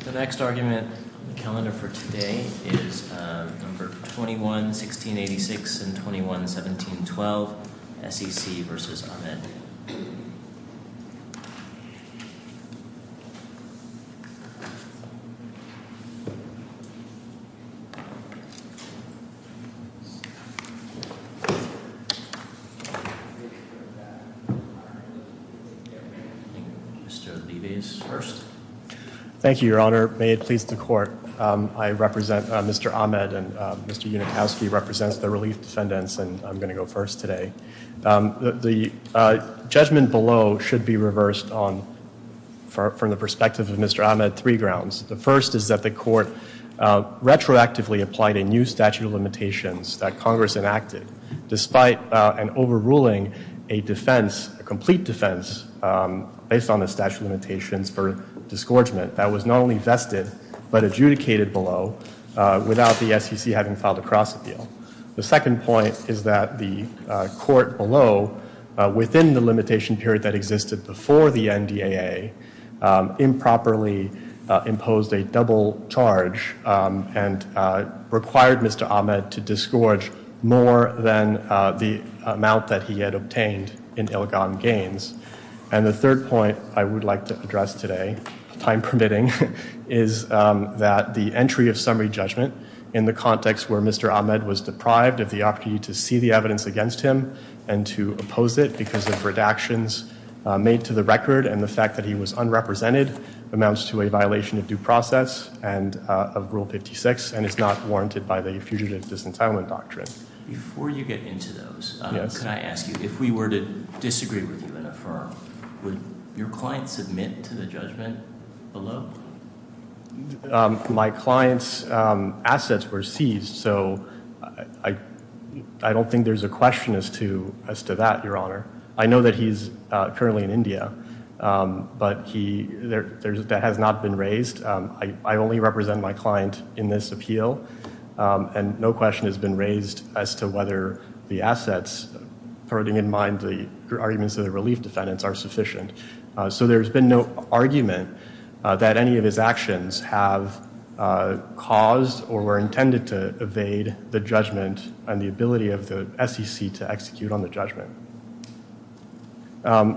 The next argument in the calendar for today is 21-1686 and 21-1712, SEC v. Ahmed. Thank you, Your Honor, may it please the Court, I represent Mr. Ahmed and Mr. Unikowski represents the Relief Descendants and I'm going to go first today. The judgment below should be reversed from the perspective of Mr. Ahmed on three grounds. The first is that the Court retroactively applied a new statute of limitations that Congress enacted despite an overruling, a defense, a complete defense based on the statute of limitations for disgorgement that was not only vested but adjudicated below without the SEC having filed a cross appeal. The second point is that the Court below, within the limitation period that existed before the NDAA, improperly imposed a double charge and required Mr. Ahmed to disgorge more than the amount that he had obtained in illegal gains. And the third point I would like to address today, time permitting, is that the entry of summary judgment in the context where Mr. Ahmed was deprived of the opportunity to see the evidence against him and to oppose it because of redactions made to the record and the fact that he was unrepresented amounts to a violation of due process and of Rule 56 and is not warranted by the Fugitive Disentitlement Doctrine. Before you get into those, can I ask you, if we were to disagree with you in a firm, would your client submit to the judgment below? My client's assets were seized, so I don't think there's a question as to that, Your Honor. I know that he's currently in India, but that has not been raised. I only represent my client in this appeal, and no question has been raised as to whether the assets, putting in mind the arguments of the relief defendants, are sufficient. So there's been no argument that any of his actions have caused or were intended to evade the judgment and the ability of the SEC to execute on the judgment.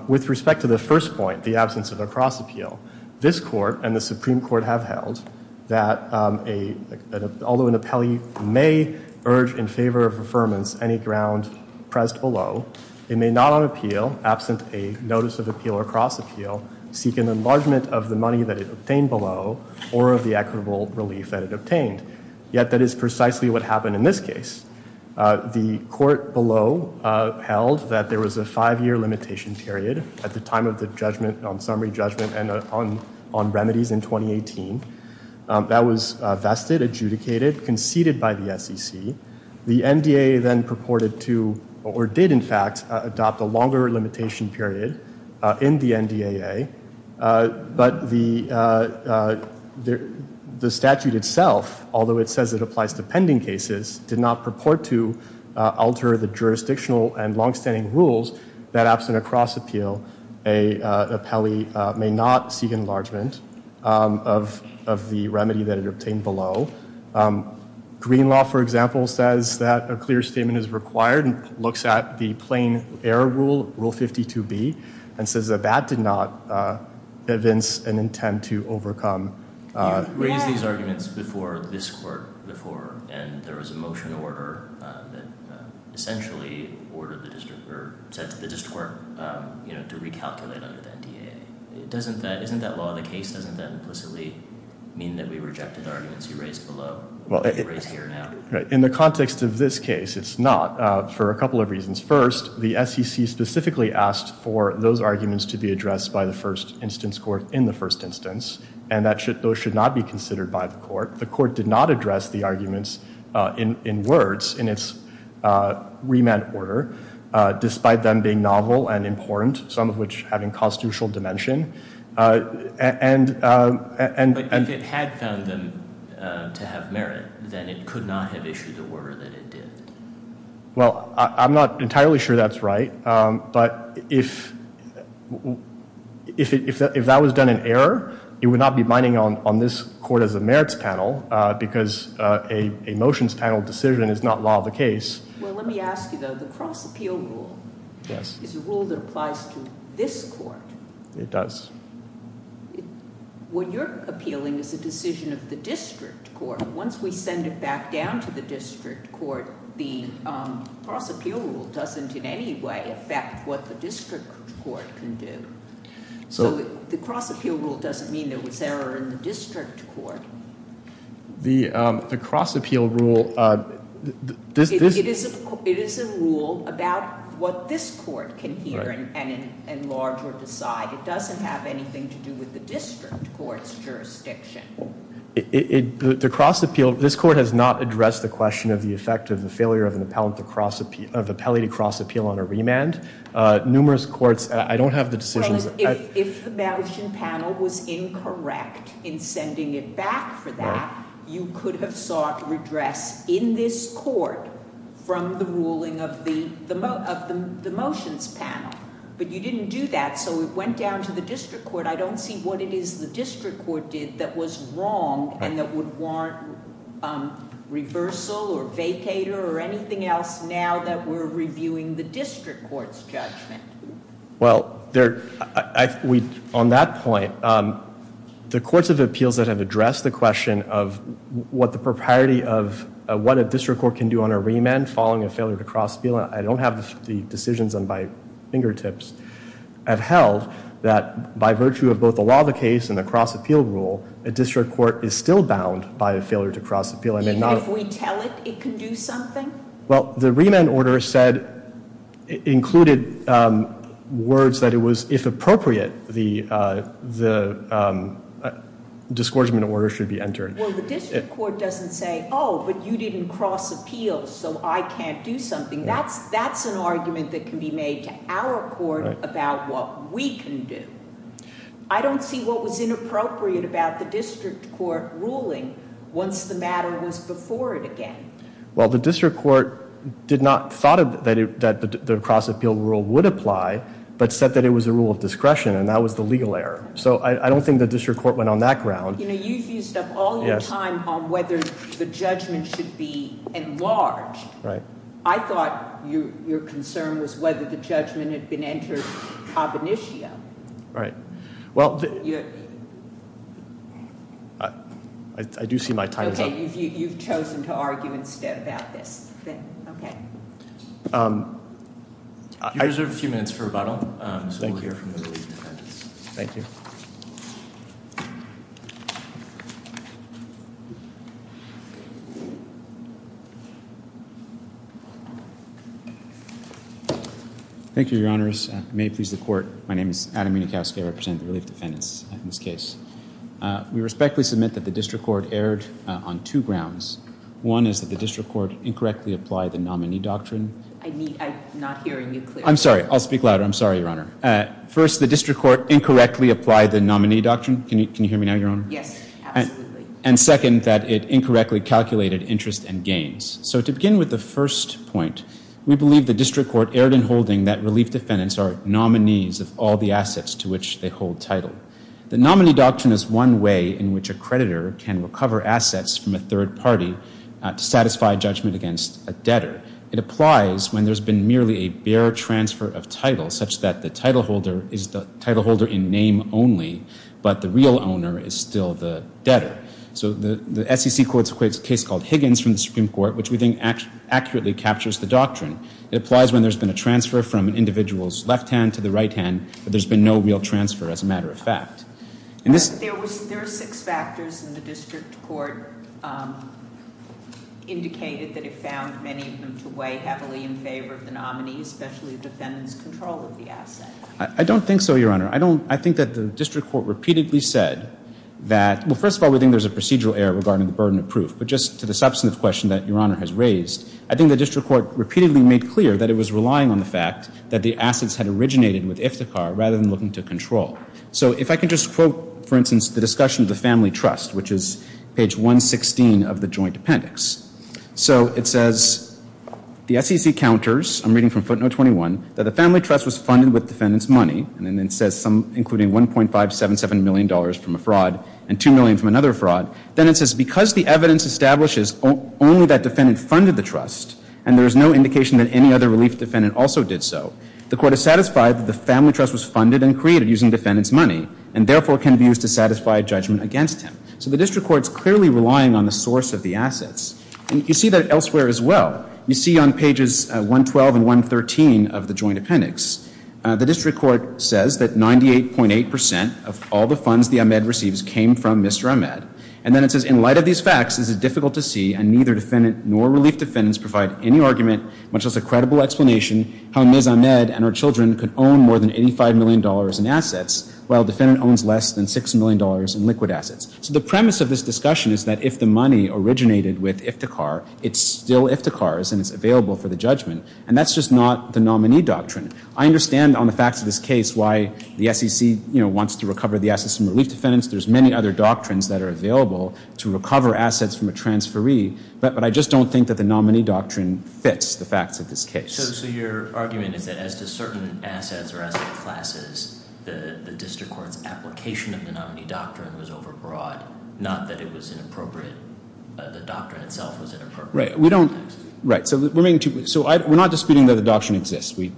With respect to the first point, the absence of a cross-appeal, this Court and the Supreme Court have held that although an appellee may urge in favor of affirmance any grounds pressed below, he may not on appeal, absent a notice of appeal or cross-appeal, seek an enlargement of the money that is obtained below or of the equitable relief that is obtained. Yet that is precisely what happened in this case. The Court below held that there was a five-year limitation period at the time of the summary judgment and on remedies in 2018. That was vested, adjudicated, conceded by the SEC. The NDAA then purported to, or did in fact, adopt a longer limitation period in the NDAA. But the statute itself, although it says it applies to pending cases, did not purport to alter the jurisdictional and long-standing rules that absent a cross-appeal, an appellee may not seek enlargement of the remedy that is obtained below. Green law, for example, says that a clear statement is required and looks at the plain error rule, Rule 52B, and says that that did not convince an intent to overcome. You raised these arguments before this Court before and there was a motion order that essentially ordered the District Court to recalculate under the NDAA. Doesn't that law in the case, doesn't that implicitly mean that we rejected arguments you raised below? Well, in the context of this case, it's not, for a couple of reasons. First, the SEC specifically asked for those arguments to be addressed by the first instance court in the first instance, and that those should not be considered by the court. The court did not address the arguments in words in its remand order, despite them being novel and important, some of which have inconstitutional dimension. But if it had found them to have merit, then it could not have issued the order that it did. Well, I'm not entirely sure that's right, but if that was done in error, it would not be binding on this Court as a merits panel, because a motions panel decision is not law of the case. Well, let me ask you, though, the cross-appeal rule is a rule that applies to this Court. It does. What you're appealing is the decision of the District Court. Once we send it back down to the District Court, the cross-appeal rule doesn't in any way affect what the District Court can do. So the cross-appeal rule doesn't mean that it was there in the District Court. The cross-appeal rule... It is a rule about what this Court can hear and enlarge or decide. It doesn't have anything to do with the District Court's jurisdiction. The cross-appeal... This Court has not addressed the question of the effect of the failure of an appellee to cross-appeal on a remand. Numerous courts... I don't have the decision... If the merits panel was incorrect in sending it back for that, you could have sought redress in this Court from the ruling of the motions panel, but you didn't do that, so it went down to the District Court. I don't see what it is the District Court did that was wrong and that would warrant reversal or vacater or anything else now that we're reviewing the District Court's judgment. Well, there... On that point, the courts of appeals that have addressed the question of what the propriety of what a District Court can do on a remand following a failure to cross-appeal, I don't have the decisions at my fingertips at health that, by virtue of both the law of the case and the cross-appeal rule, a District Court is still bound by a failure to cross-appeal. And if we tell it, it can do something? Well, the remand order said... Included words that it was, if appropriate, the discouragement order should be entered. Well, the District Court doesn't say, oh, but you didn't cross-appeal, so I can't do something. That's an argument that can be made to our court about what we can do. I don't see what was inappropriate about the District Court ruling once the matter was before it again. Well, the District Court did not thought that the cross-appeal rule would apply, but said that it was a rule of discretion and that was the legal error. So I don't think the District Court went on that ground. You know, you've used up all your time on whether the judgment should be enlarged. Right. I thought your concern was whether the judgment had been entered cognitio. Right. Well, I do see my time is up. Okay. You've chosen to argue instead about this. Okay. I reserve a few minutes for rebuttal. Thank you. Thank you. Thank you, Your Honors. May it please the Court. My name is Adam Minkowski. I represent the Relief Dependents in this case. We respectfully submit that the District Court erred on two grounds. One is that the District Court incorrectly applied the nominee doctrine. I'm not hearing you clearly. I'm sorry. I'll speak louder. I'm sorry, Your Honor. First, the District Court incorrectly applied the nominee doctrine. Can you hear me now, Your Honor? Yes, absolutely. And second, that it incorrectly calculated interest and gains. So to begin with the first point, we believe the District Court erred in holding that Relief Dependents are nominees of all the assets to which they hold title. The nominee doctrine is one way in which a creditor can recover assets from a third party to satisfy a judgment against a debtor. It applies when there's been merely a bare transfer of title, such that the title holder is the title holder in name only, but the real owner is still the debtor. So the SEC court equates a case called Higgins from the Supreme Court, which we think accurately captures the doctrine. It applies when there's been a transfer from an individual's left hand to the right hand, but there's been no real transfer as a matter of fact. There are six factors in the District Court indicated that it found many of them to weigh heavily in favor of the nominee, especially defendants' control of the assets. I don't think so, Your Honor. I think that the District Court repeatedly said that, well, first of all, we think there's a procedural error regarding the burden of proof, but just to the substance question that Your Honor has raised, I think the District Court repeatedly made clear that it was relying on the fact that the assets had originated with Iftikhar rather than looking to control. So if I could just quote, for instance, the discussion of the family trust, which is page 116 of the joint appendix. So it says, the SEC counters, I'm reading from footnote 21, that the family trust was funded, including $1.577 million from a fraud and $2 million from another fraud. Then it says, because the evidence establishes only that defendant funded the trust, and there is no indication that any other relief defendant also did so, the court is satisfied that the family trust was funded and created using defendant's money, and therefore can be used to satisfy a judgment against him. So the District Court is clearly relying on the source of the assets. And you see that elsewhere as well. You see on pages 112 and 113 of the joint appendix. The District Court says that 98.8% of all the funds the Ahmed receives came from Mr. Ahmed. And then it says, in light of these facts, it is difficult to see, and neither defendant nor relief defendants provide any argument, much less a credible explanation, how Ms. Ahmed and her children could own more than $85 million in assets, while the defendant owns less than $6 million in liquid assets. So the premise of this discussion is that if the money originated with Iftikhar, it's still Iftikhar, and it's available for the judgment. And that's just not the nominee doctrine. I understand on the facts of this case why the SEC, you know, wants to recover the assets from relief defendants. There's many other doctrines that are available to recover assets from a transferee. But I just don't think that the nominee doctrine fits the facts of this case. So you're arguing that as to certain assets or asset classes, the District Court's application of the nominee doctrine was overbroad, not that it was inappropriate. The doctrine itself was inappropriate. Right. So we're not disputing that the doctrine exists. We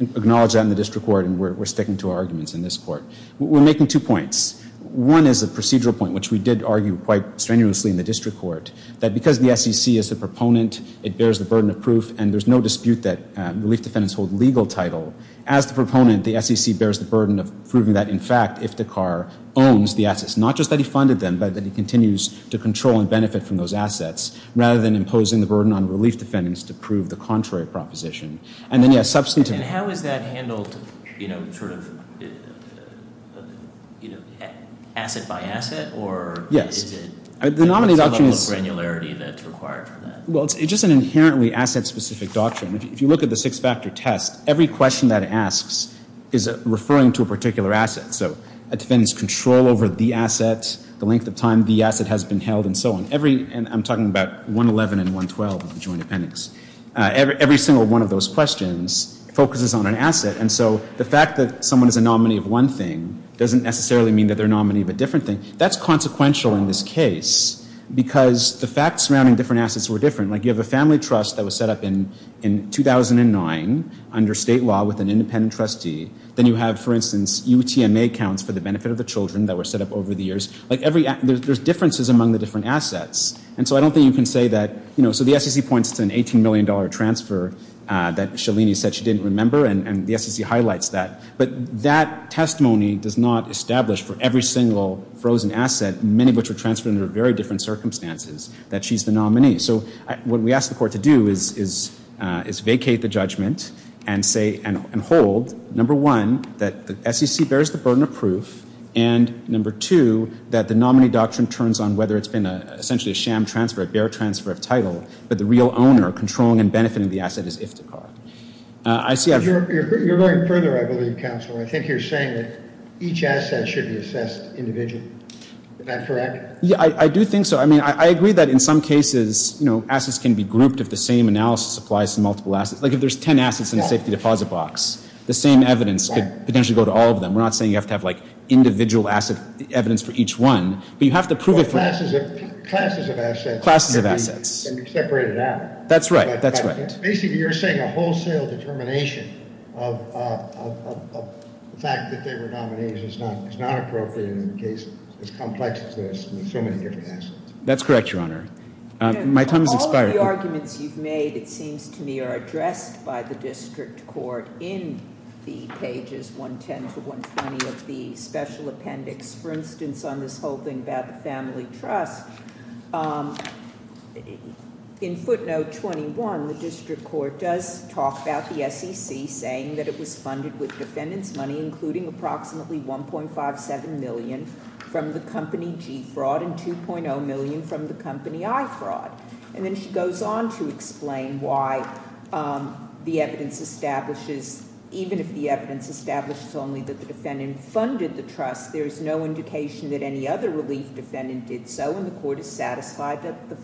acknowledge that in the District Court, and we're sticking to our arguments in this court. We're making two points. One is the procedural point, which we did argue quite strenuously in the District Court, that because the SEC is the proponent, it bears the burden of proof, and there's no dispute that relief defendants hold legal title. As the proponent, the SEC bears the burden of proving that, in fact, Iftikhar owns the assets, not just that he funded them, but that he continues to control and benefit from those assets, rather than imposing the burden on relief defendants to prove the contrary proposition. And then, yes, substantive... And how is that handled, you know, sort of, you know, asset by asset? Or... Yes. Is it... The nominee doctrine is... ...a level of granularity that's required from that? Well, it's just an inherently asset-specific doctrine. If you look at the six-factor test, every question that it asks is referring to a particular asset. So a defendant's control over the assets, the length of time the asset has been held, and so on. Every... And I'm talking about 111 and 112 in the Joint Appendix. Every single one of those questions focuses on an asset, and so the fact that someone is a nominee of one thing doesn't necessarily mean that they're a nominee of a different thing. That's consequential in this case, because the facts surrounding different assets were different. Like, you have a family trust that was set up in 2009 under state law with an independent trustee. Then you have, for instance, UTMA accounts for the benefit of the children that were set up over the years. Like, every... There's differences among the different assets, and so I don't think you can say that... So the SEC points to an $18 million transfer that Shalini said she didn't remember, and the SEC highlights that. But that testimony does not establish for every single frozen asset, many of which are transferred under very different circumstances, that she's the nominee. So what we ask the court to do is vacate the judgment and hold, number one, that the SEC bears the burden of proof, and number two, that the nominee doctrine turns on whether it's been essentially a sham transfer, a bear transfer of title, that the real owner controlling and benefiting the asset is if the car. I see... You're going further, I believe, counsel, and I think you're saying that each asset should be assessed individually. Is that correct? Yeah, I do think so. I mean, I agree that in some cases, you know, assets can be grouped if the same analysis applies to multiple assets. Like, if there's 10 assets in a safety deposit box, the same evidence could potentially go to all of them. We're not saying you have to have, like, individual asset evidence for each one, but you have the proof... Classes of assets. Classes of assets. And you separate it out. That's right. That's right. Basically, you're saying a wholesale determination of the fact that they're the nominees is not appropriate in the case. It's complex. There's so many different assets. That's correct, Your Honor. My time has expired. All of the arguments you've made, it seems to me, are addressed by the district court in the pages 110 to 120 of the special appendix. For instance, on this whole thing about the family trust, in footnote 21, the district court does talk about the SEC saying that it was funded with defendant's money, including approximately $1.57 million from the company G-Fraud and $2.0 million from the company I-Fraud. And then she goes on to explain why the evidence establishes, even if the evidence establishes only that the defendant funded the trust, there's no indication that any other relief defendant did so, and the court is satisfied that the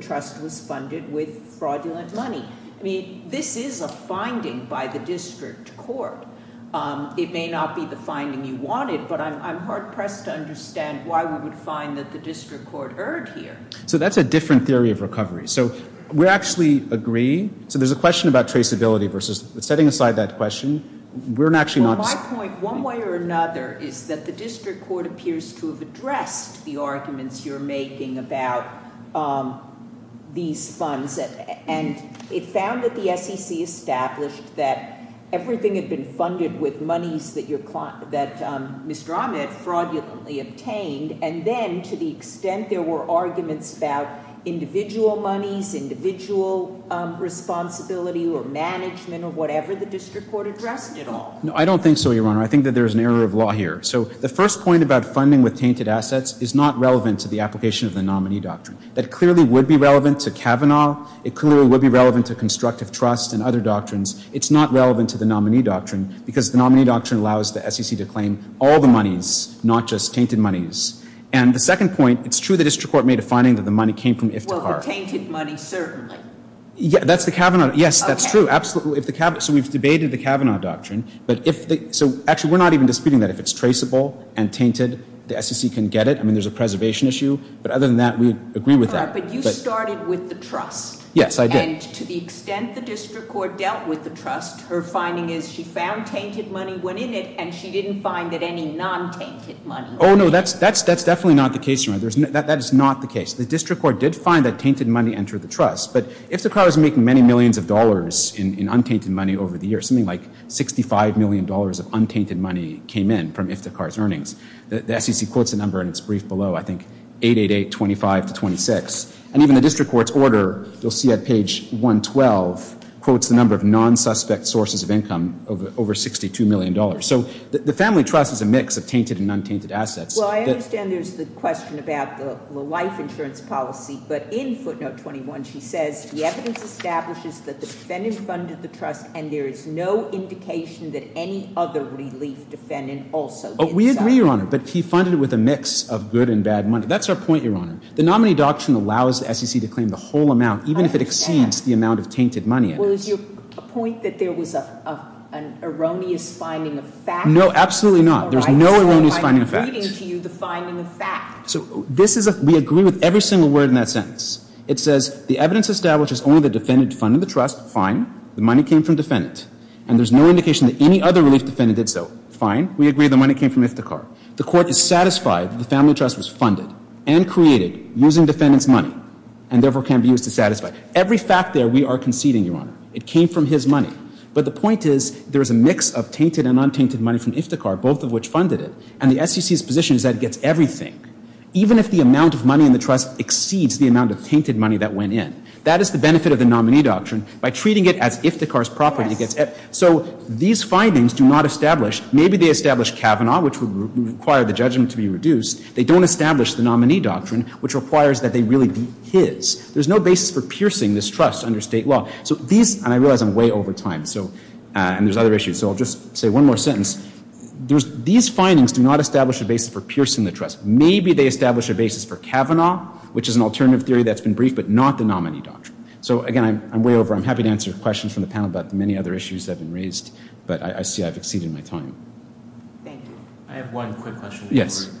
trust was funded with fraudulent money. I mean, this is a finding by the district court. It may not be the finding you wanted, but I'm hard-pressed to understand why we would find that the district court erred here. So that's a different theory of recovery. So we actually agree. So there's a question about traceability versus setting aside that question. We're actually not... Well, my point, one way or another, is that the district court appears to have addressed the arguments you're making about these funds, and it found that the SEC established that everything had been funded with monies that Mr. Ahmed fraudulently obtained, and then to the extent there were arguments about individual monies, individual responsibility or management or whatever, the district court addressed it all. No, I don't think so, Your Honor. I think that there's an error of law here. So the first point about funding with tainted assets is not relevant to the application of the nominee doctrine. That clearly would be relevant to Kavanaugh. It clearly would be relevant to constructive trust and other doctrines. It's not relevant to the nominee doctrine, because the nominee doctrine allows the SEC to claim all the monies, not just tainted monies. And the second point, it's true the district court made a finding that the money came from if and only if. Well, the tainted money, certainly. Yeah, that's the Kavanaugh... Yes, that's true. Absolutely. So we've debated the Kavanaugh doctrine. So actually, we're not even disputing that. If it's traceable and tainted, the SEC can get it. I mean, there's a preservation issue, but other than that, we agree with that. But you started with the trust. Yes, I did. And to the extent the district court dealt with the trust, her finding is she found tainted money, went in it, and she didn't find any non-tainted money. Oh, no, that's definitely not the case. That is not the case. The district court did find that tainted money entered the trust. But Iftikhar is making many millions of dollars in untainted money over the years. Something like $65 million of untainted money came in from Iftikhar's earnings. The SEC quotes a number, and it's briefed below, I think, 888-25-26. And even the district court's order, you'll see at page 112, quotes the number of non-suspect sources of income over $62 million. So the family trust is a mix of tainted and untainted assets. Well, I understand there's the question about the life insurance policy. But in footnote 21, she says, the evidence establishes that the defendant funded the trust, and there is no indication that any other legalese defendant also did that. We agree, Your Honor. But he funded it with a mix of good and bad money. That's our point, Your Honor. The nominee adoption allows the SEC to claim the whole amount, even if it exceeds the amount of tainted money. Was your point that there was an erroneous finding of facts? No, absolutely not. There's no erroneous finding of facts. I don't like reading to you the finding of facts. We agree with every single word in that sentence. It says, the evidence establishes only the defendant funded the trust. Fine. The money came from the defendant. And there's no indication that any other legalese defendant did so. Fine. We agree the money came from Iftikhar. The court is satisfied that the family trust was funded and created using the defendant's money, and therefore can be used to satisfy. Every fact there, we are conceding, Your Honor. It came from his money. But the point is, there is a mix of tainted and untainted money from Iftikhar, both of which funded it. And the SEC's position is that it gets everything, even if the amount of money in the trust exceeds the amount of tainted money that went in. That is the benefit of the nominee doctrine. By treating it as Iftikhar's property, it gets everything. So these findings do not establish. Maybe they establish Kavanaugh, which would require the judgment to be reduced. They don't establish the nominee doctrine, which requires that they really be his. There's no basis for piercing this trust under state law. And I realize I'm way over time, and there's other issues. So I'll just say one more sentence. These findings do not establish a basis for piercing the trust. Maybe they establish a basis for Kavanaugh, which is an alternative theory that's been briefed, but not the nominee doctrine. So again, I'm way over. I'm happy to answer questions from the panel about the many other issues that have been raised, but I see I've exceeded my time. Thank you. I have one quick question. Yes.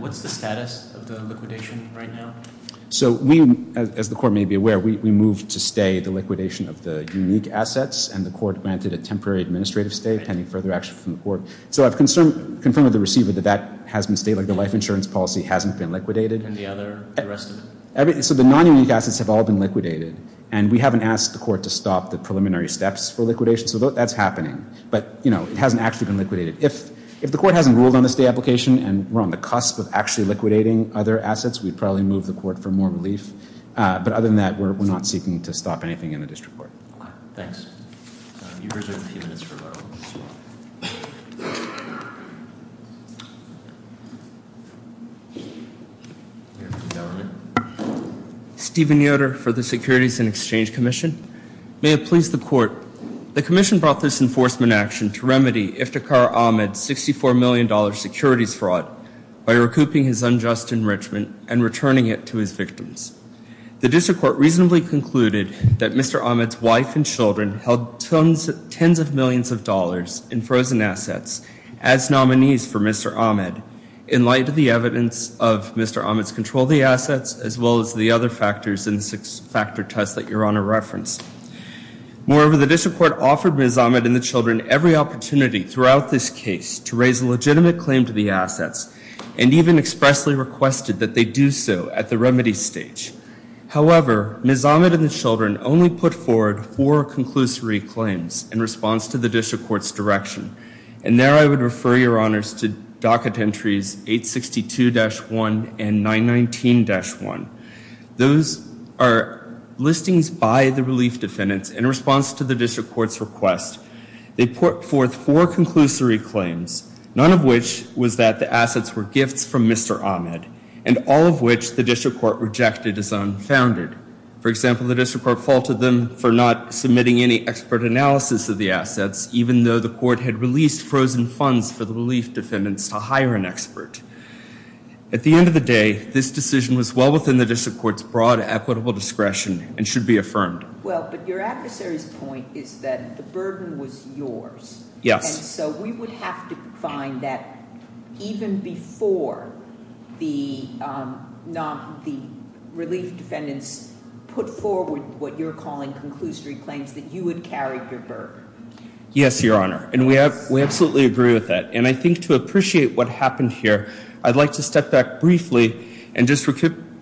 What's the status of the liquidation right now? So we, as the court may be aware, we moved to stay the liquidation of the unique assets, and the court granted a temporary administrative stay. Any further action from the court? So I've confirmed with the receiver that that hasn't stayed, like the life insurance policy hasn't been liquidated. Any other arrests? So the non-unique assets have all been liquidated, and we haven't asked the court to stop the preliminary steps for liquidation. So that's happening. But it hasn't actually been liquidated. If the court hasn't ruled on a stay application and we're on the cusp of actually But other than that, we're not seeking to stop anything in the district court. Thanks. You have a few minutes for questions. Stephen Yoder for the Securities and Exchange Commission. May it please the court, the commission brought this enforcement action to remedy Iftikhar Ahmed's $64 million security fraud by recouping his unjust enrichment and returning it to his victims. The district court reasonably concluded that Mr. Ahmed's wife and children held tens of millions of dollars in frozen assets as nominees for Mr. Ahmed, in light of the evidence of Mr. Ahmed's control of the assets, as well as the other factors in the six-factor test that Your Honor referenced. Moreover, the district court offered Ms. Ahmed and the children every opportunity throughout this case to raise a legitimate claim to the assets, and even expressly requested that they do so at the remedy stage. However, Ms. Ahmed and the children only put forward four conclusory claims in response to the district court's direction. And there I would refer Your Honors to docket entries 862-1 and 919-1. Those are listings by the relief defendants in response to the district court's request. They put forth four conclusory claims, none of which was that the assets were gifts from Mr. Ahmed, and all of which the district court rejected as unfounded. For example, the district court faulted them for not submitting any expert analysis of the assets, even though the court had released frozen funds for the relief defendants to hire an expert. At the end of the day, this decision was well within the district court's broad equitable discretion and should be affirmed. Well, but your adversary's point is that the burden was yours. Yes. And so we would have to find that even before the relief defendants put forward what you're calling conclusory claims, that you would carry your burden. Yes, Your Honor, and we absolutely agree with that. And I think to appreciate what happened here, I'd like to step back briefly and just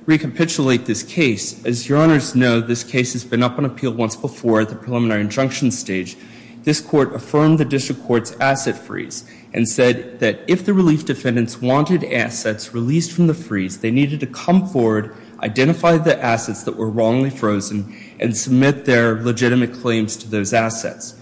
recapitulate this case. As Your Honors know, this case has been up on appeal once before at the preliminary injunction stage. This court affirmed the district court's asset freeze and said that if the relief defendants wanted assets released from the freeze, they needed to come forward, identify the assets that were wrongly frozen, and submit their legitimate claims to those assets.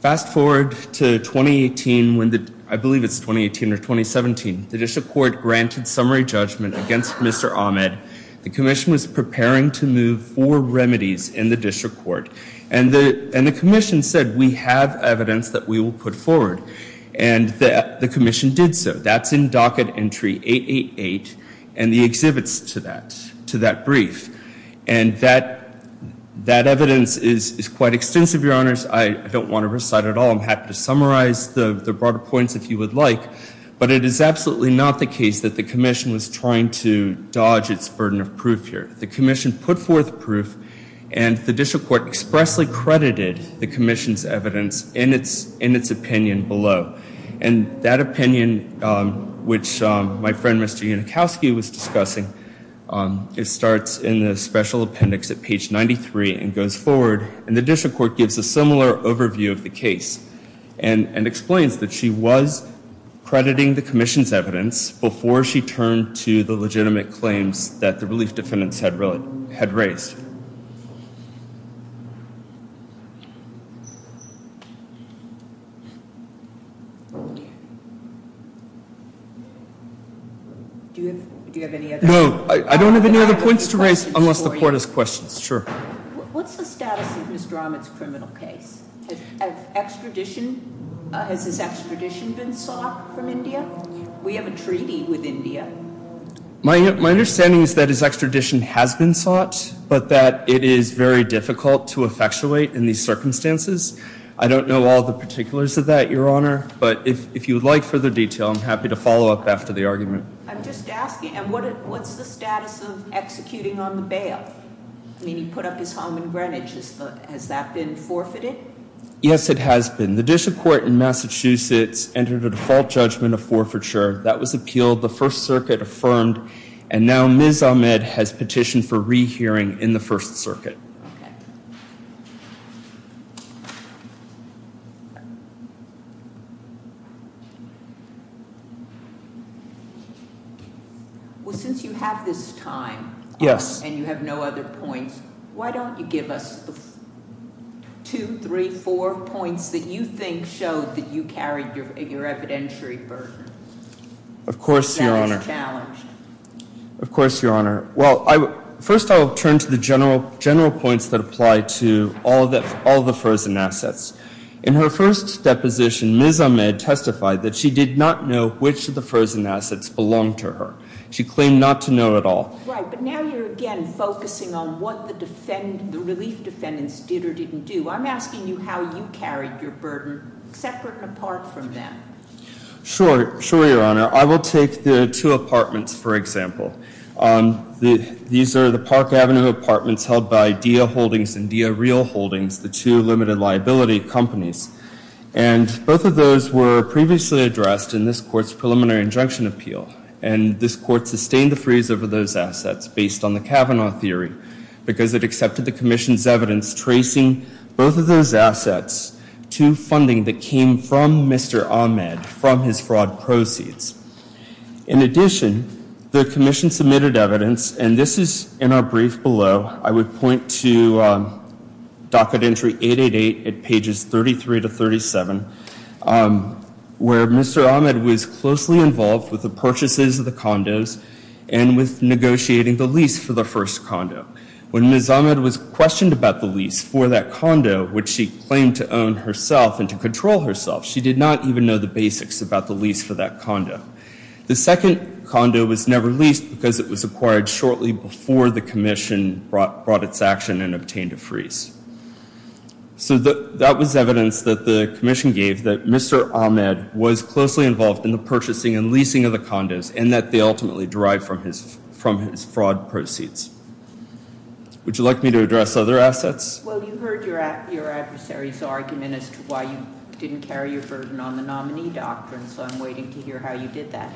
Fast forward to 2018, I believe it's 2018 or 2017, the district court granted summary judgment against Mr. Ahmed. The commission was preparing to move four remedies in the district court. And the commission said, we have evidence that we will put forward. And the commission did so. That's in docket entry 888 and the exhibits to that brief. And that evidence is quite extensive, Your Honors. I don't want to recite it all. I'm happy to summarize the broader points if you would like. But it is absolutely not the case that the commission was trying to dodge its burden of proof here. The commission put forth proof. And the district court expressly credited the commission's evidence in its opinion below. And that opinion, which my friend Mr. Unikowski was discussing, it starts in the special appendix at page 93 and goes forward. And the district court gives a similar overview of the case and explains that she was crediting the commission's evidence before she turned to the legitimate claims that the release defendants had raised. Do you have any other? No. I don't have any other points to raise unless the court has questions. Sure. What's the status of Mr. Ahmed's criminal case? Has extradition been sought from India? We have a treaty with India. My understanding is that his extradition has been sought, but that it is very difficult to effectuate in these circumstances. I don't know all the particulars of that, Your Honor. But if you would like further detail, I'm happy to follow up after the argument. I'm just asking, what's the status of executing on the bail? I mean, he put up his home in Greenwich. Has that been forfeited? Yes, it has been. The district court in Massachusetts entered a default judgment of forfeiture. That was appealed. The First Circuit affirmed. And now Ms. Ahmed has petitioned for rehearing in the First Circuit. Well, since you have this time and you have no other points, why don't you give us two, three, four points that you think show that you carried your evidentiary burden? Of course, Your Honor. Of course, Your Honor. Well, first I'll turn to the general points that apply to all the frozen assets. In her first deposition, Ms. Ahmed testified that she did not know which of the frozen assets belonged to her. She claimed not to know at all. Right. But now you're again focusing on what the relief defendants did or didn't do. I'm asking you how you carried your burden separate and apart from them. Sure. Sure, Your Honor. I will take the two apartments, for example. These are the Park Avenue apartments held by Dia Holdings and Dia Real Holdings, the two limited liability companies. And both of those were previously addressed in this court's preliminary injunction appeal. And this court sustained a freeze over those assets based on the Kavanaugh theory because it accepted the commission's evidence tracing both of those assets to funding that came from Mr. Ahmed from his fraud proceeds. In addition, the commission submitted evidence, and this is in our brief below. I would point to docket entry 888 at pages 33 to 37, where Mr. Ahmed was closely involved with the purchases of the condos and with negotiating the lease for the first condo. When Ms. Ahmed was questioned about the lease for that condo, which she claimed to own herself and to control herself, she did not even know the basics about the lease for that condo. The second condo was never leased because it was acquired shortly before the commission brought its action and obtained a freeze. So that was evidence that the commission gave that Mr. Ahmed was closely involved in the purchasing and leasing of the condos and that they ultimately derived from his fraud proceeds. Would you like me to address other assets? Well, you heard your adversary's argument as to why you didn't carry your version on the nominee doctrine, so I'm waiting to hear how you did that.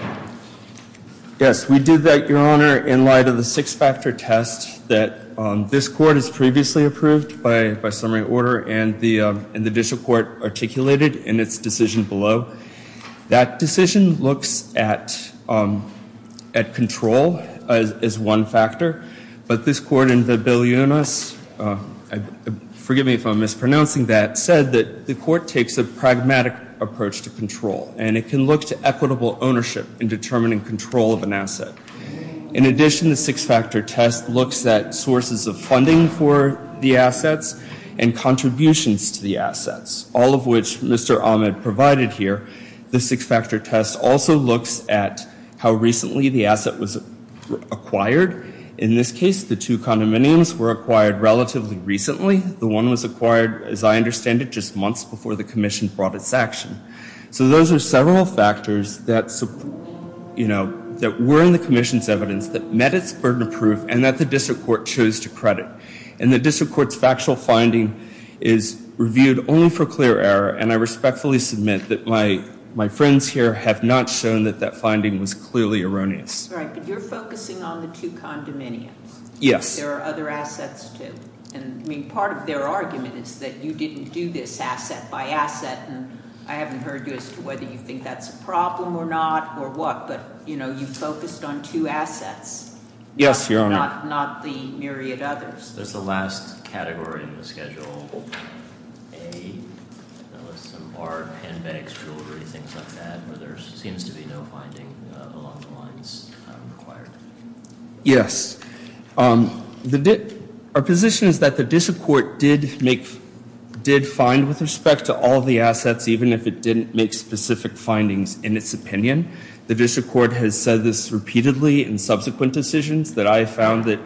Yes, we did that, Your Honor, in light of the six-factor test that this court has previously approved by summary order and the district court articulated in its decision below. That decision looks at control as one factor, but this court in the Bilionis, forgive me if I'm mispronouncing that, said that the court takes a pragmatic approach to control and it can look to equitable ownership in determining control of an asset. In addition, the six-factor test looks at sources of funding for the assets and contributions to the assets, all of which Mr. Ahmed provided here. The six-factor test also looks at how recently the asset was acquired. In this case, the two condominiums were acquired relatively recently. The one was acquired, as I understand it, just months before the commission brought its action. So those are several factors that were in the commission's evidence that met its burden of proof and that the district court chose to credit. And the district court's factual finding is reviewed only for clear error and I respectfully submit that my friends here have not shown that that finding was clearly erroneous. All right, but you're focusing on the two condominiums. Yes. There are other assets, too. I mean, part of their argument is that you didn't do this asset by asset and I haven't heard you as to whether you think that's a problem or not or what. But, you know, you focused on two assets. Yes, Your Honor. Not the myriad others. That's the last category in the schedule. A, there was some art, handbags, jewelry, things like that, but there seems to be no finding of a lot of the ones that were acquired. Yes. Our position is that the district court did find with respect to all the assets, even if it didn't make specific findings in its opinion. The district court has said this repeatedly in subsequent decisions that I have found that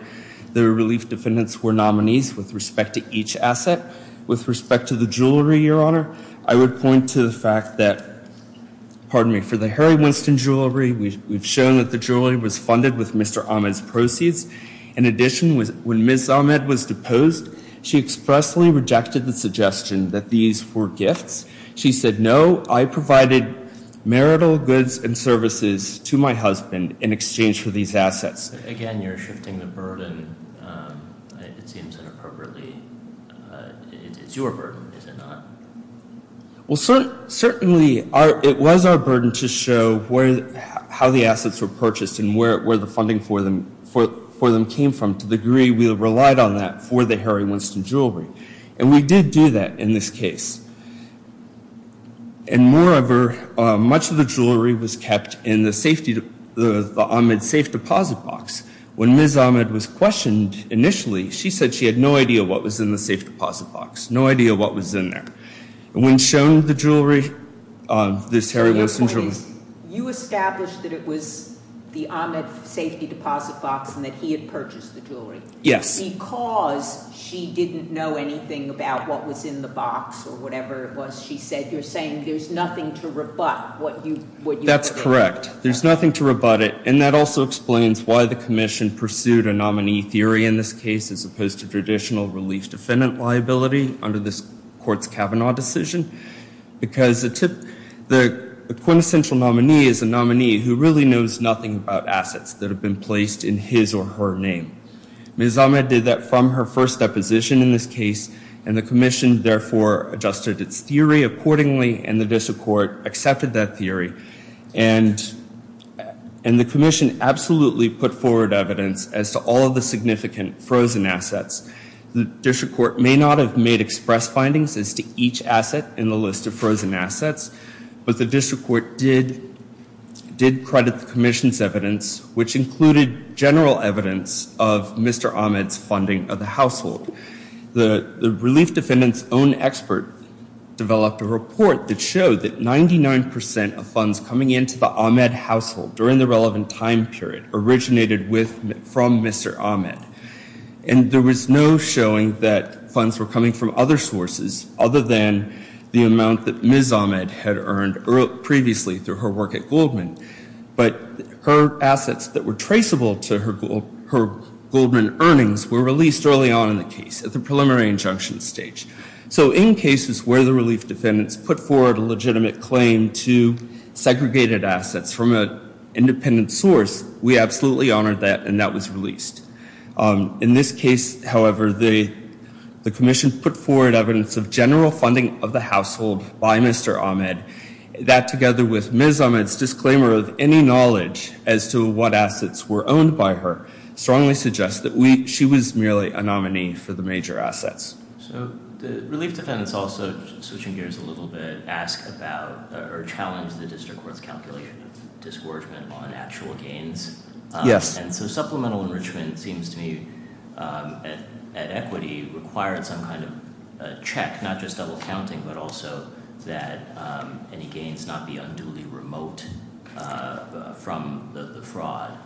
the relief defendants were nominees with respect to each asset. With respect to the jewelry, Your Honor, I would point to the fact that, pardon me, for the Harry Winston jewelry, we've shown that the jewelry was funded with Mr. Ahmed's proceeds. In addition, when Ms. Ahmed was deposed, she expressly rejected the suggestion that these were gifts. She said, no, I provided marital goods and services to my husband in exchange for these assets. Again, you're shifting the burden. It's your burden, is it not? Certainly, it was our burden to show how the assets were purchased and where the funding for them came from. To the degree we relied on that for the Harry Winston jewelry. We did do that in this case. Moreover, much of the jewelry was kept in the Ahmed safe deposit box. When Ms. Ahmed was questioned initially, she said she had no idea what was in the safe deposit box, no idea what was in there. When shown the jewelry, this Harry Winston jewelry. You established that it was the Ahmed safety deposit box and that he had purchased the jewelry. Yes. Because she didn't know anything about what was in the box or whatever it was she said, you're saying there's nothing to rebut what you said. That's correct. There's nothing to rebut it, and that also explains why the commission pursued a nominee theory in this case as opposed to traditional relief defendant liability under this court's Kavanaugh decision. Because the quintessential nominee is a nominee who really knows nothing about assets that have been placed in his or her name. Ms. Ahmed did that from her first deposition in this case, and the commission therefore adjusted its theory accordingly, and the district court accepted that theory. And the commission absolutely put forward evidence as to all of the significant frozen assets. The district court may not have made express findings as to each asset in the list of frozen assets, but the district court did credit the commission's evidence, which included general evidence of Mr. Ahmed's funding of the household. The relief defendant's own expert developed a report that showed that 99% of funds coming into the Ahmed household during the relevant time period originated from Mr. Ahmed. And there was no showing that funds were coming from other sources other than the amount that Ms. Ahmed had earned previously through her work at Goldman. But her assets that were traceable to her Goldman earnings were released early on in the case at the preliminary injunction stage. So in cases where the relief defendants put forward a legitimate claim to segregated assets from an independent source, we absolutely honor that, and that was released. In this case, however, the commission put forward evidence of general funding of the household by Mr. Ahmed. That, together with Ms. Ahmed's disclaimer of any knowledge as to what assets were owned by her, strongly suggests that she was merely a nominee for the major assets. So the relief defendants also, switching gears a little bit, ask about or challenge the district court's calculation discouragement on actual gains. Yes. And so supplemental enrichment seems to me, at equity, require some kind of check, not just double counting, but also that any gains not be unduly remote from the fraud.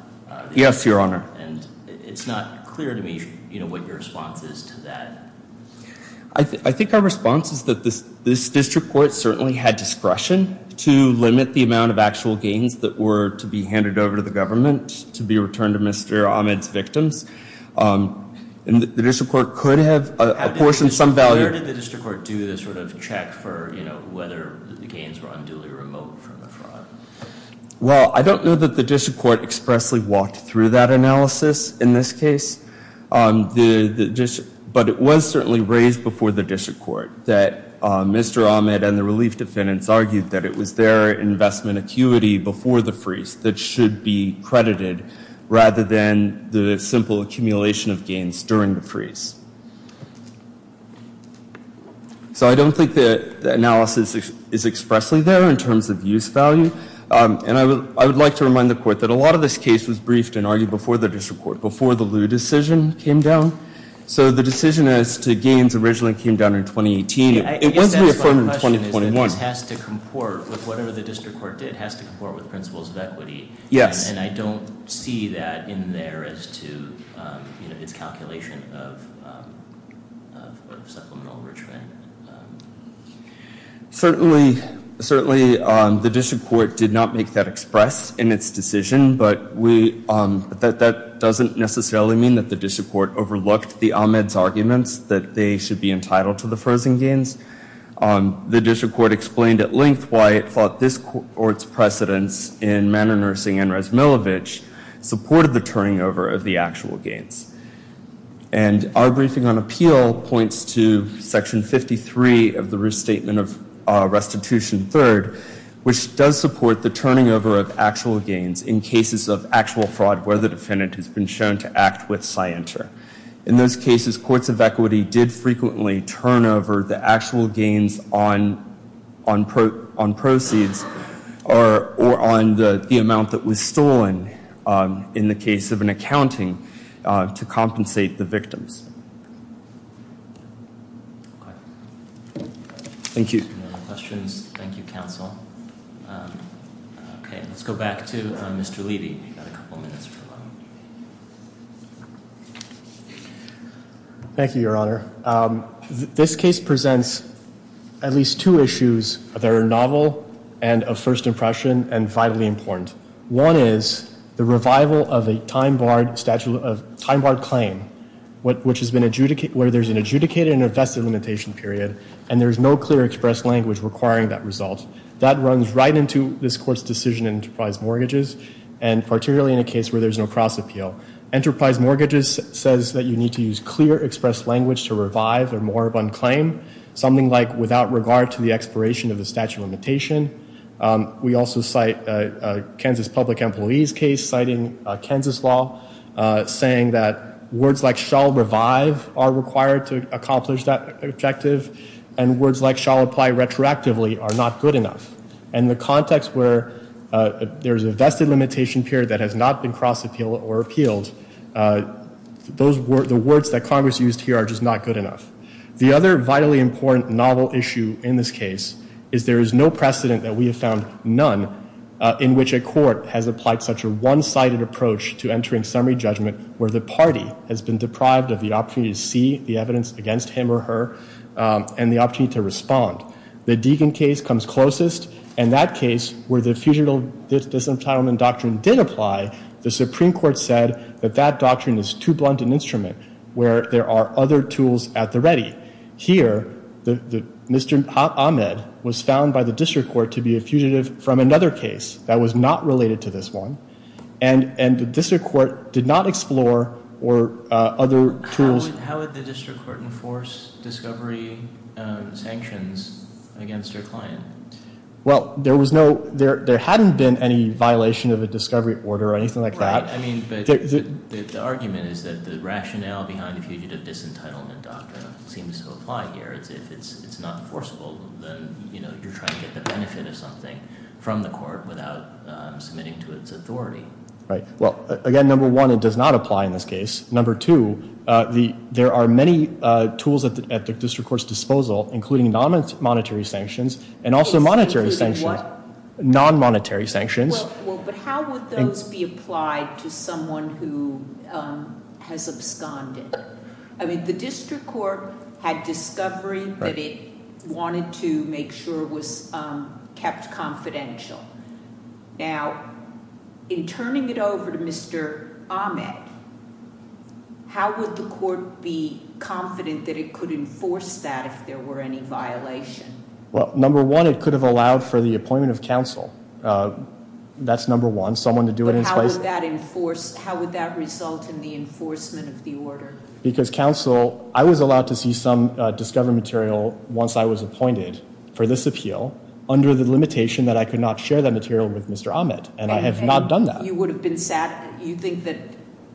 Yes, Your Honor. And it's not clear to me what your response is to that. I think our response is that this district court certainly had discretion to limit the amount of actual gains that were to be handed over to the government to be returned to Mr. Ahmed's victims. And the district court could have a portion of some value. How did the district court do this sort of check for whether the gains were unduly remote from the fraud? Well, I don't know that the district court expressly walked through that analysis in this case. But it was certainly raised before the district court that Mr. Ahmed and the relief defendants argued that it was their investment acuity before the freeze that should be credited rather than the simple accumulation of gains during the freeze. So I don't think the analysis is expressly there in terms of use value. And I would like to remind the court that a lot of this case was briefed and argued before the district court, before the Lew decision came down. So the decision as to gains originally came down in 2018. It wasn't reaffirmed in 2021. I guess my question is, it has to comport with whatever the district court did. It has to comport with principles of equity. And I don't see that in there as to, you know, in the calculation of what the settlement was. Certainly, the district court did not make that express in its decision. But that doesn't necessarily mean that the district court overlooked the Ahmed's arguments that they should be entitled to the frozen gains. The district court explained at length why it thought this court's precedence in Manor Nursing and Rasmilevich supported the turning over of the actual gains. And our briefing on appeal points to section 53 of the restatement of restitution third, which does support the turning over of actual gains in cases of actual fraud where the defendant has been shown to act with scientia. In those cases, courts of equity did frequently turn over the actual gains on proceeds or on the amount that was stolen in the case of an accounting to compensate the victims. Thank you. Thank you, counsel. Okay, let's go back to Mr. Levy. Thank you, Your Honor. This case presents at least two issues that are novel and of first impression and vitally important. One is the revival of a time-barred claim where there's an adjudicated and a vested limitation period and there's no clear expressed language requiring that result. That runs right into this court's decision in enterprise mortgages and particularly in a case where there's no cross-appeal. Enterprise mortgages says that you need to use clear expressed language to revive or more of unclaim something like the expiration of the statute of limitation. We also cite Kansas Public Employees case citing Kansas law saying that words like shall revive are required to accomplish that objective and words like shall apply retroactively are not good enough. And the context where there's a vested limitation period that has not been crossed or appealed, the words that Congress used here are just not good enough. The other vitally important novel issue in this case is there is no precedent that we have found none in which a court has applied such a one-sided approach to entering summary judgment where the party has been deprived of the opportunity to see the evidence against him or her and the opportunity to respond. The Deegan case comes closest and that case where the fusion of this disentitlement doctrine did apply, the Supreme Court said that that doctrine is too blunt an instrument where there are other tools at the ready. Here, Mr. Ahmed was found by the district court to be a fugitive from another case that was not related to this one and the district court did not explore or other tools... How would the district court enforce discovery sanctions against your client? Well, there hadn't been any violation of a discovery order or anything like that. The argument is that the rationale behind the fugitive disentitlement doctrine seems to apply here. It's not enforceable if you're trying to get the benefit of something from the court without submitting to its authority. Well, again, number one, it does not apply in this case. Number two, there are many tools at the district court's disposal including non-monetary sanctions and also monetary sanctions. Non-monetary sanctions. Well, but how would those be applied to someone who has absconded? I mean, the district court had discovery that it wanted to make sure it was kept confidential. Now, in turning it over to Mr. Ahmed, how would the court be confident that it could enforce that if there were any violations? Well, number one, it could have allowed for the appointment of counsel. That's number one. How would that result in the enforcement of the order? Because counsel, I was allowed to see some discovery material once I was appointed for this appeal under the limitation that I could not share that material with Mr. Ahmed, and I have not done that. You think that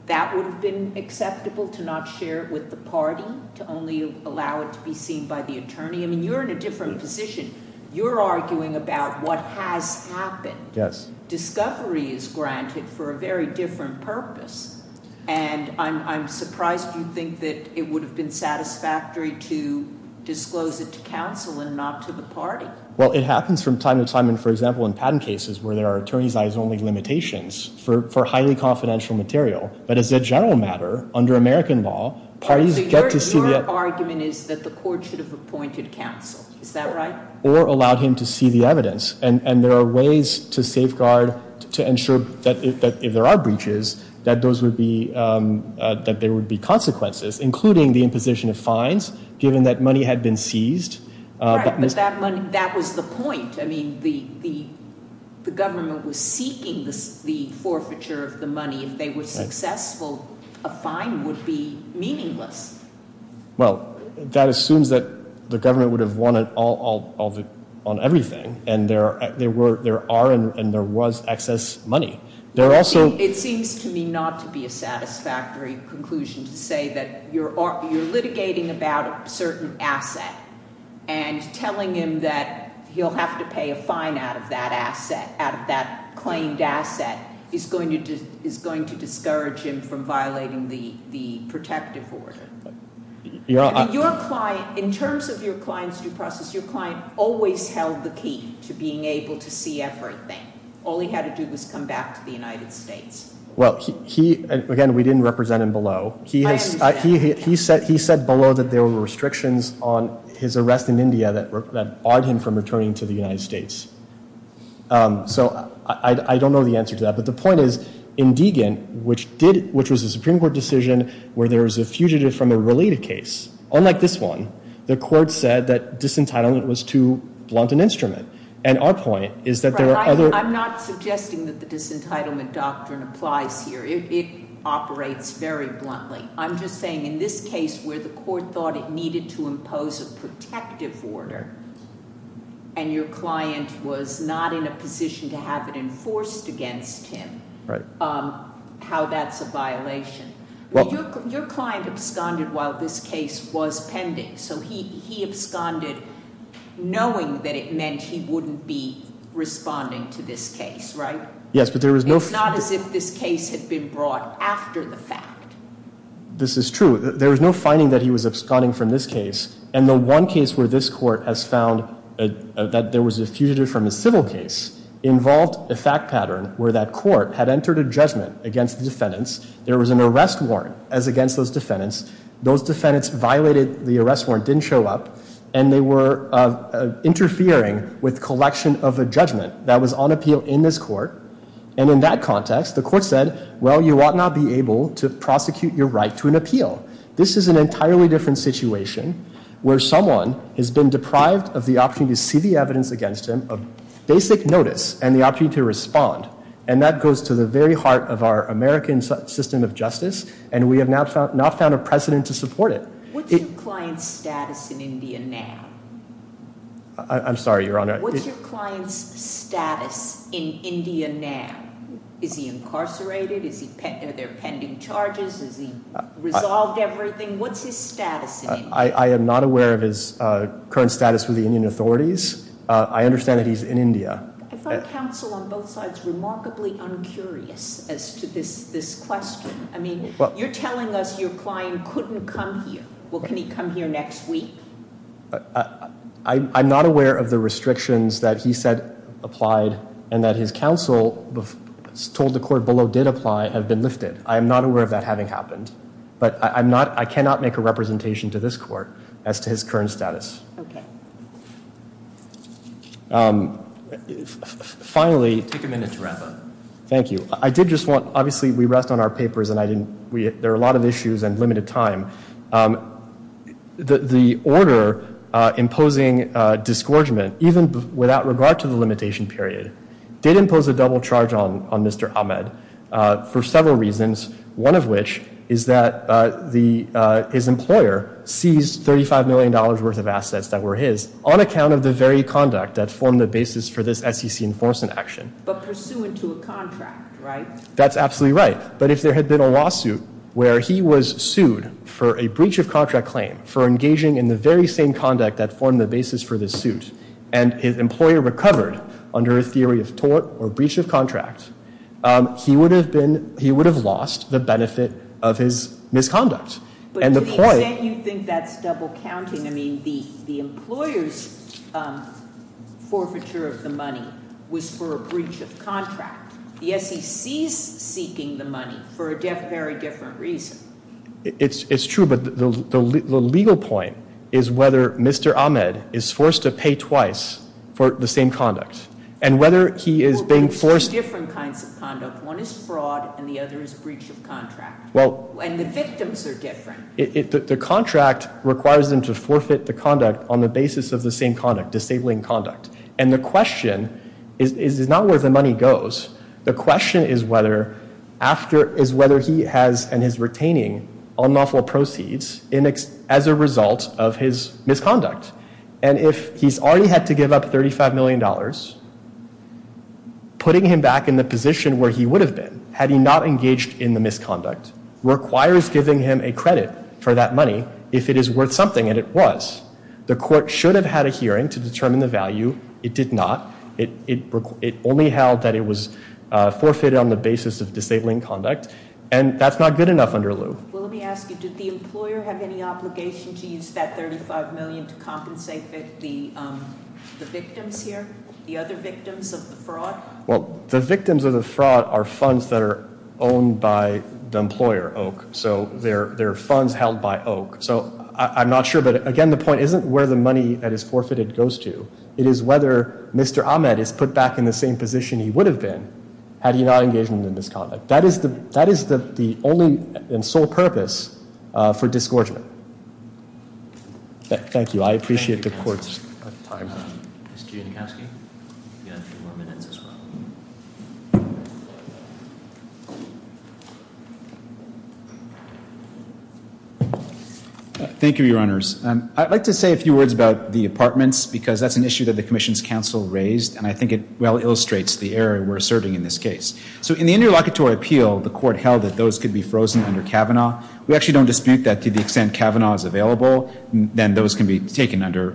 that would have been acceptable, to not share it with the parties, to only allow it to be seen by the attorney? I mean, you're in a different position. You're arguing about what has happened. Yes. Discovery is granted for a very different purpose, and I'm surprised you think that it would have been satisfactory to disclose it to counsel and not to the parties. Well, it happens from time to time, and for example, in patent cases where there are attorneys-by-his-only limitations for highly confidential material, but as a general matter, under American law, parties get to see... So your argument is that the court should have appointed counsel. Is that right? Or allow him to see the evidence, and there are ways to safeguard, to ensure that if there are breaches, that there would be consequences, including the imposition of fines, given that money had been seized. Right, but that was the point. I mean, the government was seeking the forfeiture of the money, and if they were successful, a fine would be meaningless. Well, that assumes that the government would have won it all on everything, and there are and there was excess money. There are also... It seems to me not to be a satisfactory conclusion to say that you're litigating about a certain asset and telling him that he'll have to pay a fine out of that asset, out of that claimed asset, is going to discourage him from violating the protective order. Your client, in terms of your client's due process, your client always held the key to being able to see everything. All he had to do was come back to the United States. Well, he... Again, we didn't represent him below. He said below that there were restrictions on his arrest in India that barred him from returning to the United States. So I don't know the answer to that, but the point is, in Deegan, which was a Supreme Court decision where there was a fugitive from a related case, unlike this one, the court said that disentitlement was too blunt an instrument. And our point is that there are other... I'm not suggesting that the disentitlement doctrine applies here. It operates very bluntly. I'm just saying in this case where the court thought it needed to impose a protective order and your client was not in a position to have it enforced against him, how that's a violation. Your client absconded while this case was pending. So he absconded knowing that it meant he wouldn't be responding to this case, right? Yes, but there was no... It's not as if this case had been brought after the fact. This is true. There was no finding that he was absconding from this case. And the one case where this court has found that there was a fugitive from a civil case involved a fact pattern where that court had entered a judgment against the defendants. There was an arrest warrant as against those defendants. Those defendants violated the arrest warrant, didn't show up, and they were interfering with collection of a judgment that was on appeal in this court. And in that process, the court said, well, you will not be able to prosecute your right to an appeal. This is an entirely different situation where someone has been deprived of the option to see the evidence against him, of basic notice, and the option to respond. And that goes to the very heart of our American system of justice, and we have not found a precedent to support it. What's your client's status in India now? I'm sorry, Your Honor. What's your client's status in India now? Is he incarcerated? Are there pending charges? Has he resolved everything? What's his status in India? I am not aware of his current status with the Indian authorities. I understand that he's in India. I thought counsel on both sides was remarkably uncurious as to this question. I mean, you're telling us your client couldn't come here. Well, can he come here next week? I'm not aware of the restrictions that he said applied and that his counsel told the court below did apply have been lifted. I am not aware of that having happened. But I cannot make a representation to this court as to his current status. Okay. Finally... Take a minute to wrap up. Thank you. I did just want... Obviously, we rest on our papers, and there are a lot of issues and limited time. The order imposing disgorgement, even without regard to the limitation period, did impose a double charge on Mr. Ahmed for several reasons, one of which is that his employer seized $35 million worth of assets that were his on account of the very conduct that formed the basis for this SEC enforcement action. But pursuant to a contract, right? That's absolutely right. But if there had been a lawsuit where he was sued for a breach of contract claim for engaging in the very same conduct that formed the basis for this suit, and his employer recovered under a theory of tort or breach of contract, he would have lost the benefit of his misconduct. And the point... And yet you think that's double counting. I mean, the employer's forfeiture of the money was for a breach of contract. The SEC's seeking the money for a very different reason. It's true, but the legal point is whether Mr. Ahmed is forced to pay twice for the same conduct. And whether he is being forced... Well, there's two different kinds of conduct. One is fraud, and the other is a breach of contract. And the victims are different. The contract requires them to forfeit the conduct on the basis of the same conduct, disabling conduct. And the question is not where the money goes. The question is whether he has, and is retaining, unlawful proceeds as a result of his misconduct. And if he's already had to give up $35 million, putting him back in the position where he would have been had he not engaged in the misconduct requires giving him a credit for that money if it is worth something, and it was. The court should have had a hearing to determine the value. It did not. It only held that it was forfeited on the basis of disabling conduct. And that's not good enough under lieu. Well, let me ask you, does the employer have any obligation to use that $35 million to compensate the victims here, the other victims of the fraud? Well, the victims of the fraud are funds that are owned by the employer, Oak. So they're funds held by Oak. So I'm not sure, but again, the point isn't where the money that is forfeited goes to. It is whether Mr. Ahmed is put back in the same position he would have been had he not engaged in the misconduct. That is the only and sole purpose for disgorgement. Thank you. I appreciate the court's time. Mr. Jankowski, you have a few more minutes as well. Thank you, Your Honors. I'd like to say a few words about the apartments because that's an issue that the commission's counsel raised, and I think it well illustrates the error we're serving in this case. So in the interlocutory appeal, the court held that those could be frozen under Kavanaugh. We actually don't dispute that to the extent Kavanaugh is available, then those can be taken under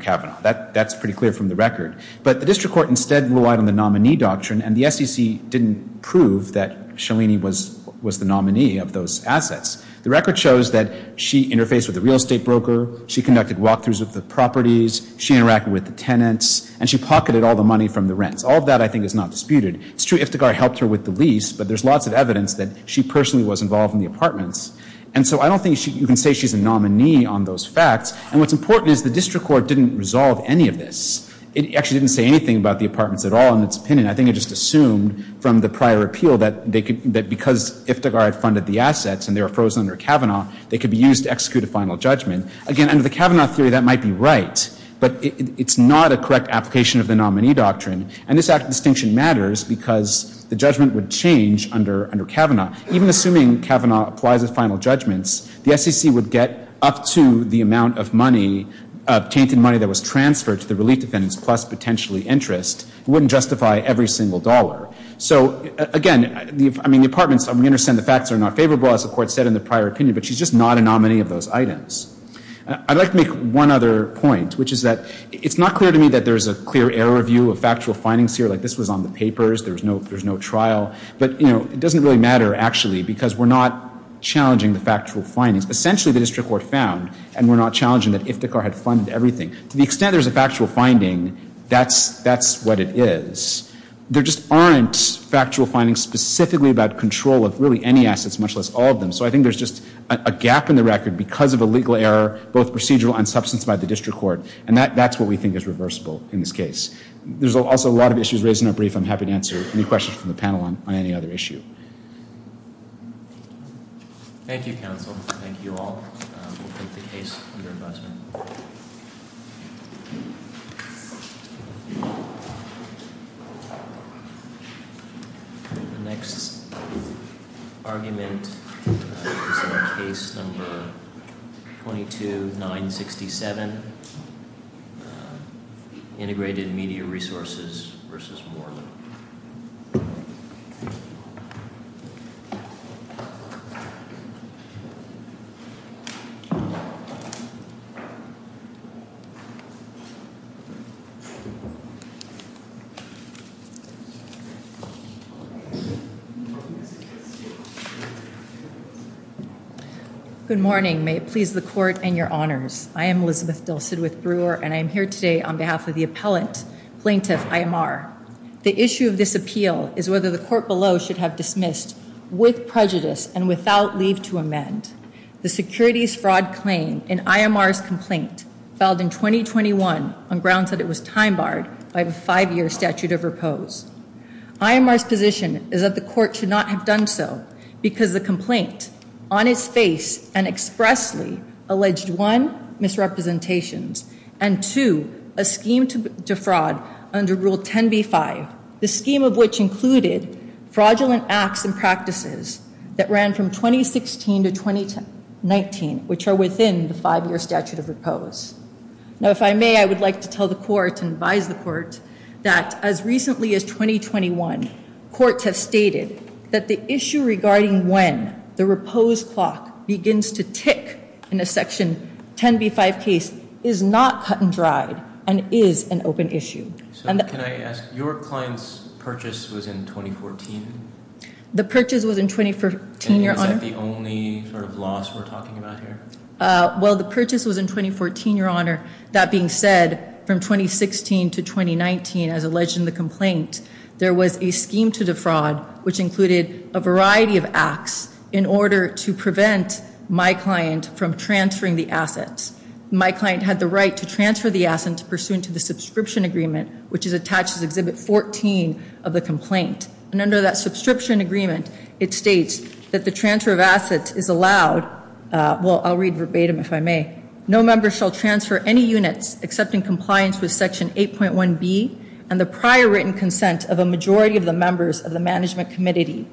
Kavanaugh. That's pretty clear from the record. But the district court instead relied on the nominee doctrine, and the SEC didn't prove that Shalini was the nominee of those assets. The record shows that she interfaced with a real estate broker. She conducted walk-throughs with the properties. She interacted with the tenants. And she pocketed all the money from the rents. All that, I think, is not disputed. It's true Iftigar helped her with the lease, but there's lots of evidence that she personally was involved in the apartments. And so I don't think you can say she's a nominee on those facts. And what's important is the district court didn't resolve any of this. It actually didn't say anything about the apartments at all. In its opinion, I think it just assumed from the prior appeal that because Iftigar had funded the assets and they were frozen under Kavanaugh, they could be used to execute a final judgment. Again, under the Kavanaugh theory, that might be right. But it's not a correct application of the nominee doctrine. And this act of distinction matters because the judgment would change under Kavanaugh. Even assuming Kavanaugh applies his final judgments, the SEC would get up to the amount of money, of taken money that was transferred to the relief defendants plus potentially interest. It wouldn't justify every single dollar. So again, I mean, the apartments, I understand the facts are not favorable, as the court said in the prior opinion, but she's just not a nominee of those items. I'd like to make one other point, which is that it's not clear to me that there's a clear error view of factual findings here. Like, this was on the papers. There's no trial. But it doesn't really matter, actually, because we're not challenging the factual findings. Essentially, the district court found, and we're not challenging that Iptikhar had funded everything. To the extent there's a factual finding, that's what it is. There just aren't factual findings specifically about control of really any assets, much less all of them. So I think there's just a gap in the record because of a legal error, both procedural and substantiated by the district court. And that's what we think is reversible in this case. There's also a lot of issues raised in our brief. I'm happy to answer any questions from the panel on any other issue. Thank you, counsel. Thank you all. We'll take the case from your husband. The next argument is on case number 22-967, Integrated Media Resources v. Moore. Elizabeth, please. Good morning. May it please the court and your honors. I am Elizabeth Bill Sidwith Brewer, and I'm here today on behalf of the appellant, plaintiff Iyemar. The issue of this appeal is whether the court below should have dismissed with prejudice and without leave to amend the securities fraud claim in Iyemar's complaint filed in 2021 on grounds that it was time-barred by the five-year statute of repose. Iyemar's position is that the court should not have done so because the complaint, on its face and expressly, alleged, one, misrepresentations, and two, a scheme to defraud under Rule 10b-5, the scheme of which included fraudulent acts and practices that ran from 2016 to 2019, which are within the five-year statute of repose. Now, if I may, I would like to tell the court and advise the court that as recently as 2021, courts have stated that the issue regarding when the repose clock begins to tick in the Section 10b-5 case is not cut and dry and is an open issue. Can I ask, your client's purchase was in 2014? The purchase was in 2014, Your Honor. Is that the only sort of loss we're talking about here? Well, the purchase was in 2014, Your Honor. That being said, from 2016 to 2019, as alleged in the complaint, there was a scheme to defraud, which included a variety of acts in order to prevent my client from transferring the assets. My client had the right to transfer the assets pursuant to the subscription agreement, which is attached to Exhibit 14 of the complaint. And under that subscription agreement, it states that the transfer of assets is allowed. Well, I'll read verbatim, if I may. No member shall transfer any units except in compliance with Section 8.1b and the prior written consent of a majority of the members of the Management Committee,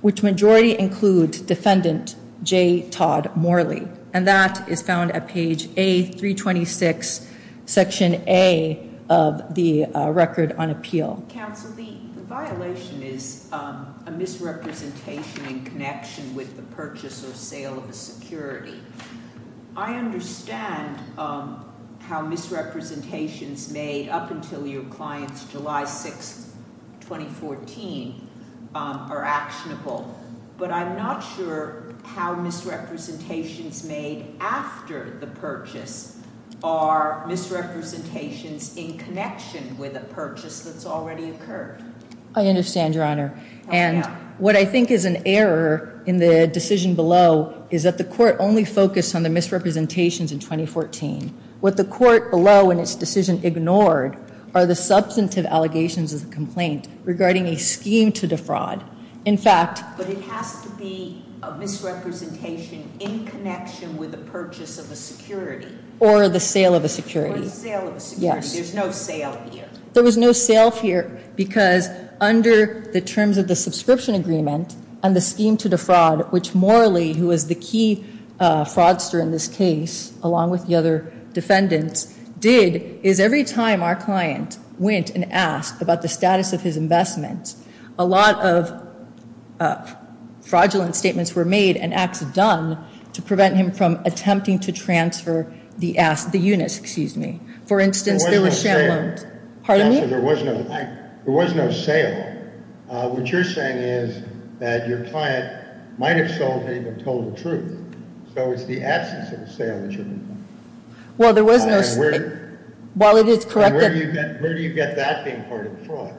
which majority includes Defendant J. Todd Morley. And that is found at page A326, Section A of the Record on Appeal. Counsel, the violation is a misrepresentation in connection with the purchase or sale of the security. I understand how misrepresentations made up until your client's July 6, 2014, are actionable, but I'm not sure how misrepresentations made after the purchase are misrepresentations in connection with a purchase that's already occurred. I understand, Your Honor. And what I think is an error in the decision below is that the Court only focused on the misrepresentations in 2014. What the Court below in its decision ignored are the substantive allegations of the complaint regarding a scheme to defraud. In fact... But it has to be a misrepresentation in connection with the purchase of a security. Or the sale of a security. Or the sale of a security. Yes. There's no sale here. There was no sale here because under the terms of the subscription agreement on the scheme to defraud, which Morley, who is the key fraudster in this case, along with the other defendants, did, is every time our client went and asked about the status of his investments, a lot of fraudulent statements were made and acts done to prevent him from attempting to transfer the UNIS, excuse me. For instance, there was... There was no sale. Pardon me? There was no sale. What you're saying is that your client might have sold it and told the truth. So it's the absence of the sale that you're talking about. Well, there was no... Well, it is correct... Where do you get that thing for a fraud?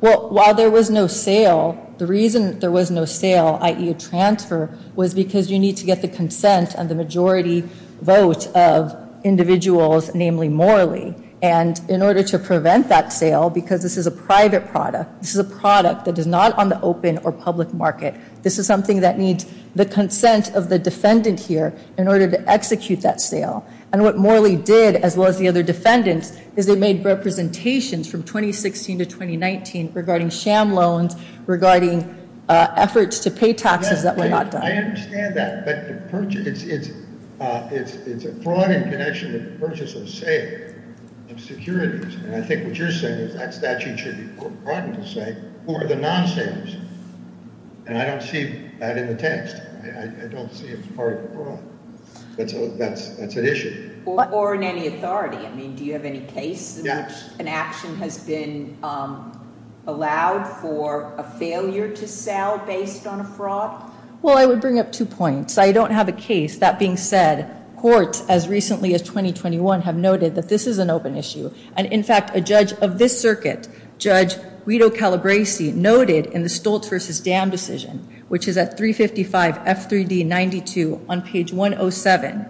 Well, while there was no sale, the reason there was no sale, i.e. a transfer, was because you need to get the consent and the majority vote of individuals, namely Morley. And in order to prevent that sale, because this is a private product, this is a product that is not on the open or public market, this is something that needs the consent of the defendant here in order to execute that sale. And what Morley did, as well as the other defendants, is it made representations from 2016 to 2019 regarding sham loans, regarding efforts to pay taxes that were not done. I understand that. But it's a fraud in connection with the purchase of a sale and securities. And I think what you're saying is that statute should be put broadly to say who are the non-salesmen. And I don't see that in the text. I don't see it as part of the fraud. That's an issue. Or in any authority. Do you have any case in which an action has been allowed for a failure to sell based on a fraud? Well, I would bring up two points. I don't have a case. That being said, courts, as recently as 2021, have noted that this is an open issue. And, in fact, a judge of this circuit, Judge Guido Calabresi, noted in the Stultz v. Dam decision, which is at 355 F3D 92 on page 107,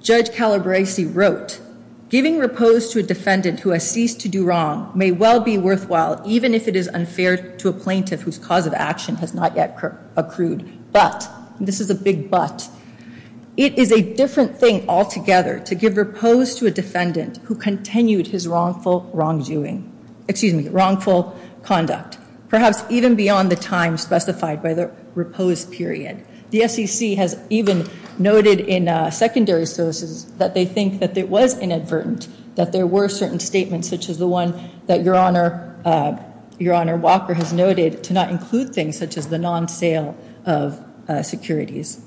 Judge Calabresi wrote, giving repose to a defendant who has ceased to do wrong may well be worthwhile, even if it is unfair to a plaintiff whose cause of action has not yet accrued. But, this is a big but, it is a different thing altogether to give repose to a defendant who continued his wrongful wrongdoing. Excuse me, wrongful conduct. Perhaps even beyond the time specified by the repose period. The SEC has even noted in secondary services that they think that it was inadvertent that there were certain statements, such as the one that Your Honor Walker has noted, to not include things such as the non-sale of securities.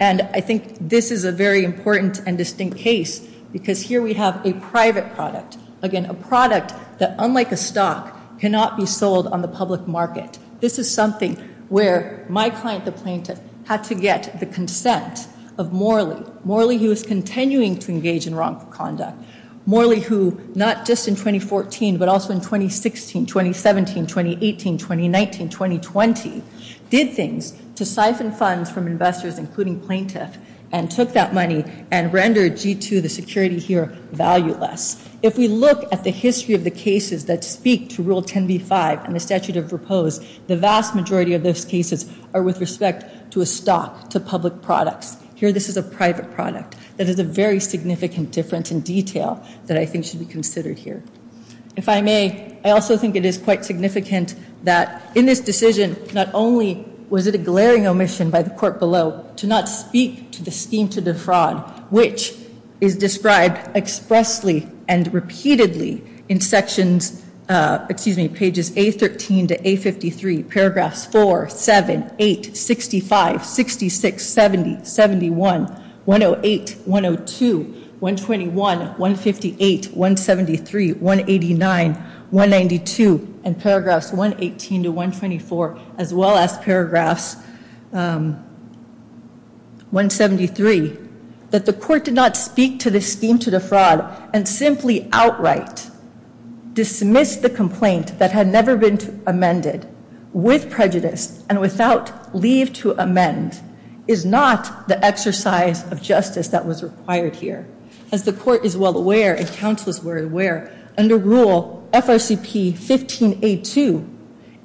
And, I think this is a very important and distinct case because here we have a private product. Again, a product that, unlike a stock, cannot be sold on the public market. This is something where my client, the plaintiff, had to get the consent of Morley. Morley, who is continuing to engage in wrongful conduct. Morley, who, not just in 2014, but also in 2016, 2017, 2018, 2019, 2020, did things to siphon funds from investors, including plaintiffs, and took that money and rendered G2, the security here, valueless. If we look at the history of the cases that speak to Rule 10b-5 and the statute of repose, the vast majority of those cases are with respect to a stock, to public products. Here, this is a private product. It is a very significant difference in detail that I think should be considered here. If I may, I also think it is quite significant that, in this decision, not only was it a glaring omission by the court below to not speak to the scheme to defraud, which is described expressly and repeatedly in sections, excuse me, pages A13 to A53, paragraphs 4, 7, 8, 65, 66, 70, 71, 108, 102, 121, 158, 173, 189, 192, and paragraphs 118 to 124, as well as paragraphs 173, that the court did not speak to the scheme to defraud and simply outright dismiss the complaint that had never been amended, with prejudice and without leave to amend, is not the exercise of justice that was required here. As the court is well aware, as counsels were aware, under Rule FRCP-15A2,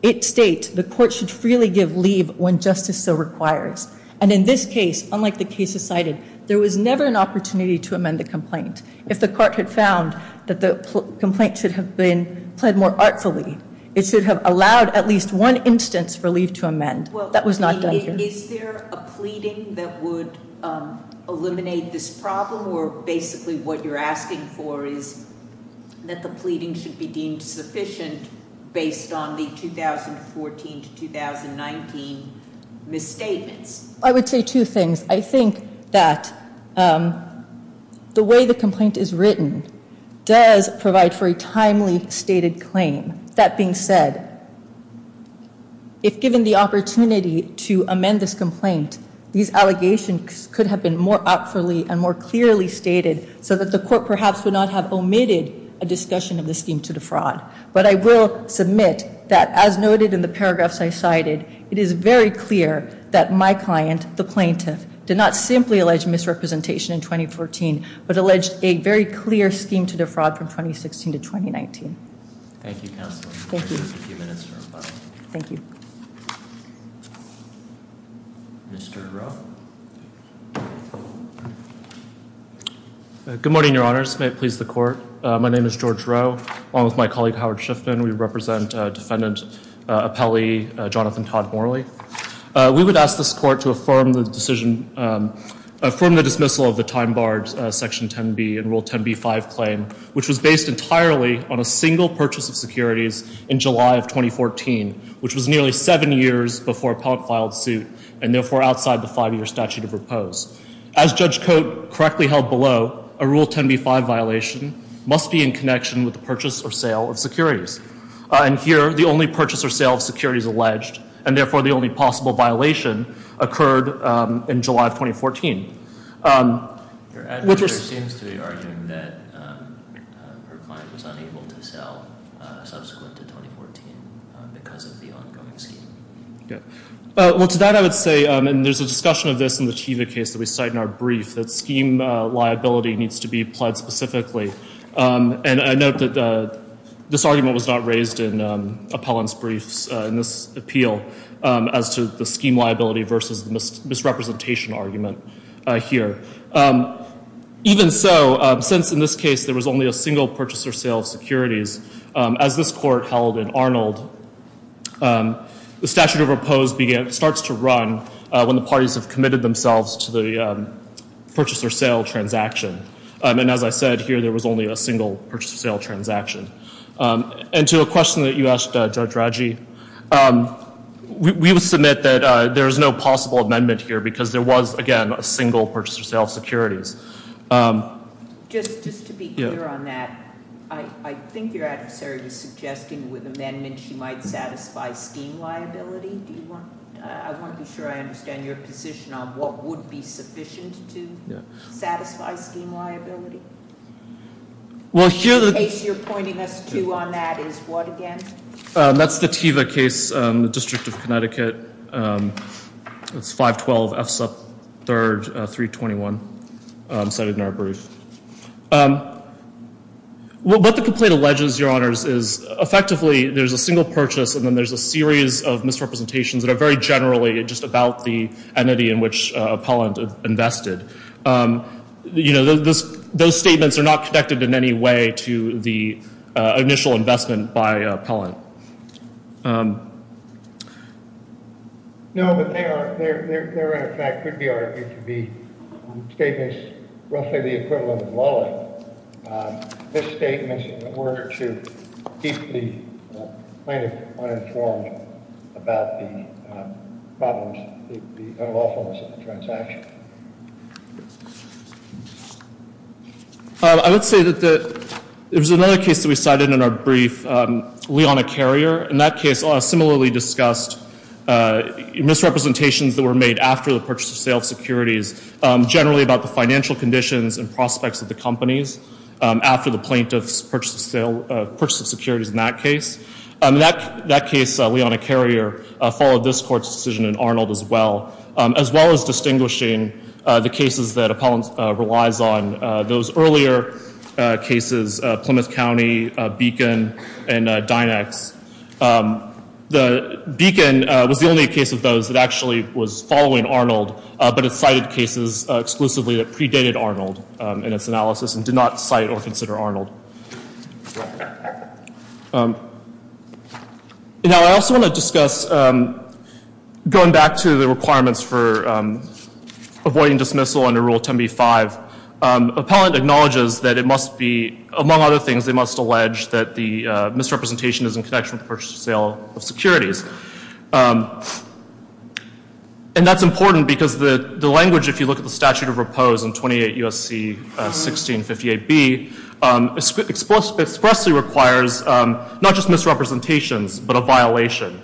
it states the court should freely give leave when justice so requires. And in this case, unlike the cases cited, there was never an opportunity to amend the complaint. If the court had found that the complaint should have been pled more artfully, it should have allowed at least one instance for leave to amend. That was not the idea. Is there a pleading that would eliminate this problem, or basically what you're asking for is that the pleading should be deemed sufficient based on the 2014 to 2019 mistakes? I would say two things. I think that the way the complaint is written does provide for a timely stated claim. That being said, if given the opportunity to amend this complaint, these allegations could have been more artfully and more clearly stated so that the court perhaps would not have omitted a discussion of the scheme to defraud. But I will submit that, as noted in the paragraphs I cited, it is very clear that my client, the plaintiff, did not simply allege misrepresentation in 2014, but alleged a very clear scheme to defraud from 2016 to 2019. Thank you, counsel. Thank you. Thank you. Mr. Rowe. Good morning, Your Honors. May it please the court. My name is George Rowe, along with my colleague Howard Shifton. We represent Defendant Appellee Jonathan Todd Morley. We would ask this court to affirm the dismissal of the time-barred Section 10b and Rule 10b-5 claim, which was based entirely on a single purchase of securities in July of 2014, which was nearly seven years before Ponk filed suit and, therefore, outside the five-year statute of repose. As Judge Cote correctly held below, a Rule 10b-5 violation must be in connection with the purchase or sale of securities. And here, the only purchase or sale of securities alleged and, therefore, the only possible violation occurred in July of 2014. Your Honor, there seems to be argument that her client was unable to sell subsequent to 2014 because of the ongoing scheme. Well, to that I would say, and there's a discussion of this in the Chiva case that we cite in our brief, that scheme liability needs to be applied specifically. And I note that this argument was not raised in Apollon's brief in this appeal as to the scheme liability versus misrepresentation argument here. Even so, since in this case there was only a single purchase or sale of securities, as this court held in Arnold, the statute of repose starts to run when the parties have committed themselves to the purchase or sale transaction. And as I said, here, there was only a single purchase or sale transaction. And to the question that you asked, Dr. Aggi, we will submit that there is no possible amendment here because there was, again, a single purchase or sale of securities. Just to be clear on that, I think your adversary was suggesting with amendments you might satisfy scheme liability. I want to be sure I understand your position on what would be sufficient to satisfy scheme liability. The case you're pointing us to on that is what, again? That's the Teva case in the District of Connecticut. It's 512F321 cited in our brief. What the complaint alleges, Your Honors, is effectively there's a single purchase and then there's a series of misrepresentations that are very generally just about the entity in which Apollon invested. You know, those statements are not connected in any way to the initial investment by Apollon. No, but they are. They're, in effect, could be argued to be statements roughly the equivalent of a wallet. This statement is in order to keep the plaintiff uninformed about the problems, the lawfulness of the transaction. I would say that there's another case that we cited in our brief, Leona Carrier. In that case, similarly discussed misrepresentations that were made after the purchase of sales securities, generally about the financial conditions and prospects of the companies after the plaintiff's purchase of securities in that case. That case, Leona Carrier, followed this court's decision in Arnold as well, as well as distinguishing the cases that Apollon relies on, those earlier cases, Plymouth County, Beacon, and Dynex. The Beacon was the only case of those that actually was following Arnold, but it cited cases exclusively that predated Arnold in its analysis and did not cite or consider Arnold. Now, I also want to discuss going back to the requirements for avoiding dismissal under Rule 10b-5. Apollon acknowledges that it must be, among other things, they must allege that the misrepresentation is in connection with the purchase of sales securities. And that's important because the language, if you look at the statute of repose in 28 U.S.C. 1658B, expressly requires not just misrepresentations, but a violation.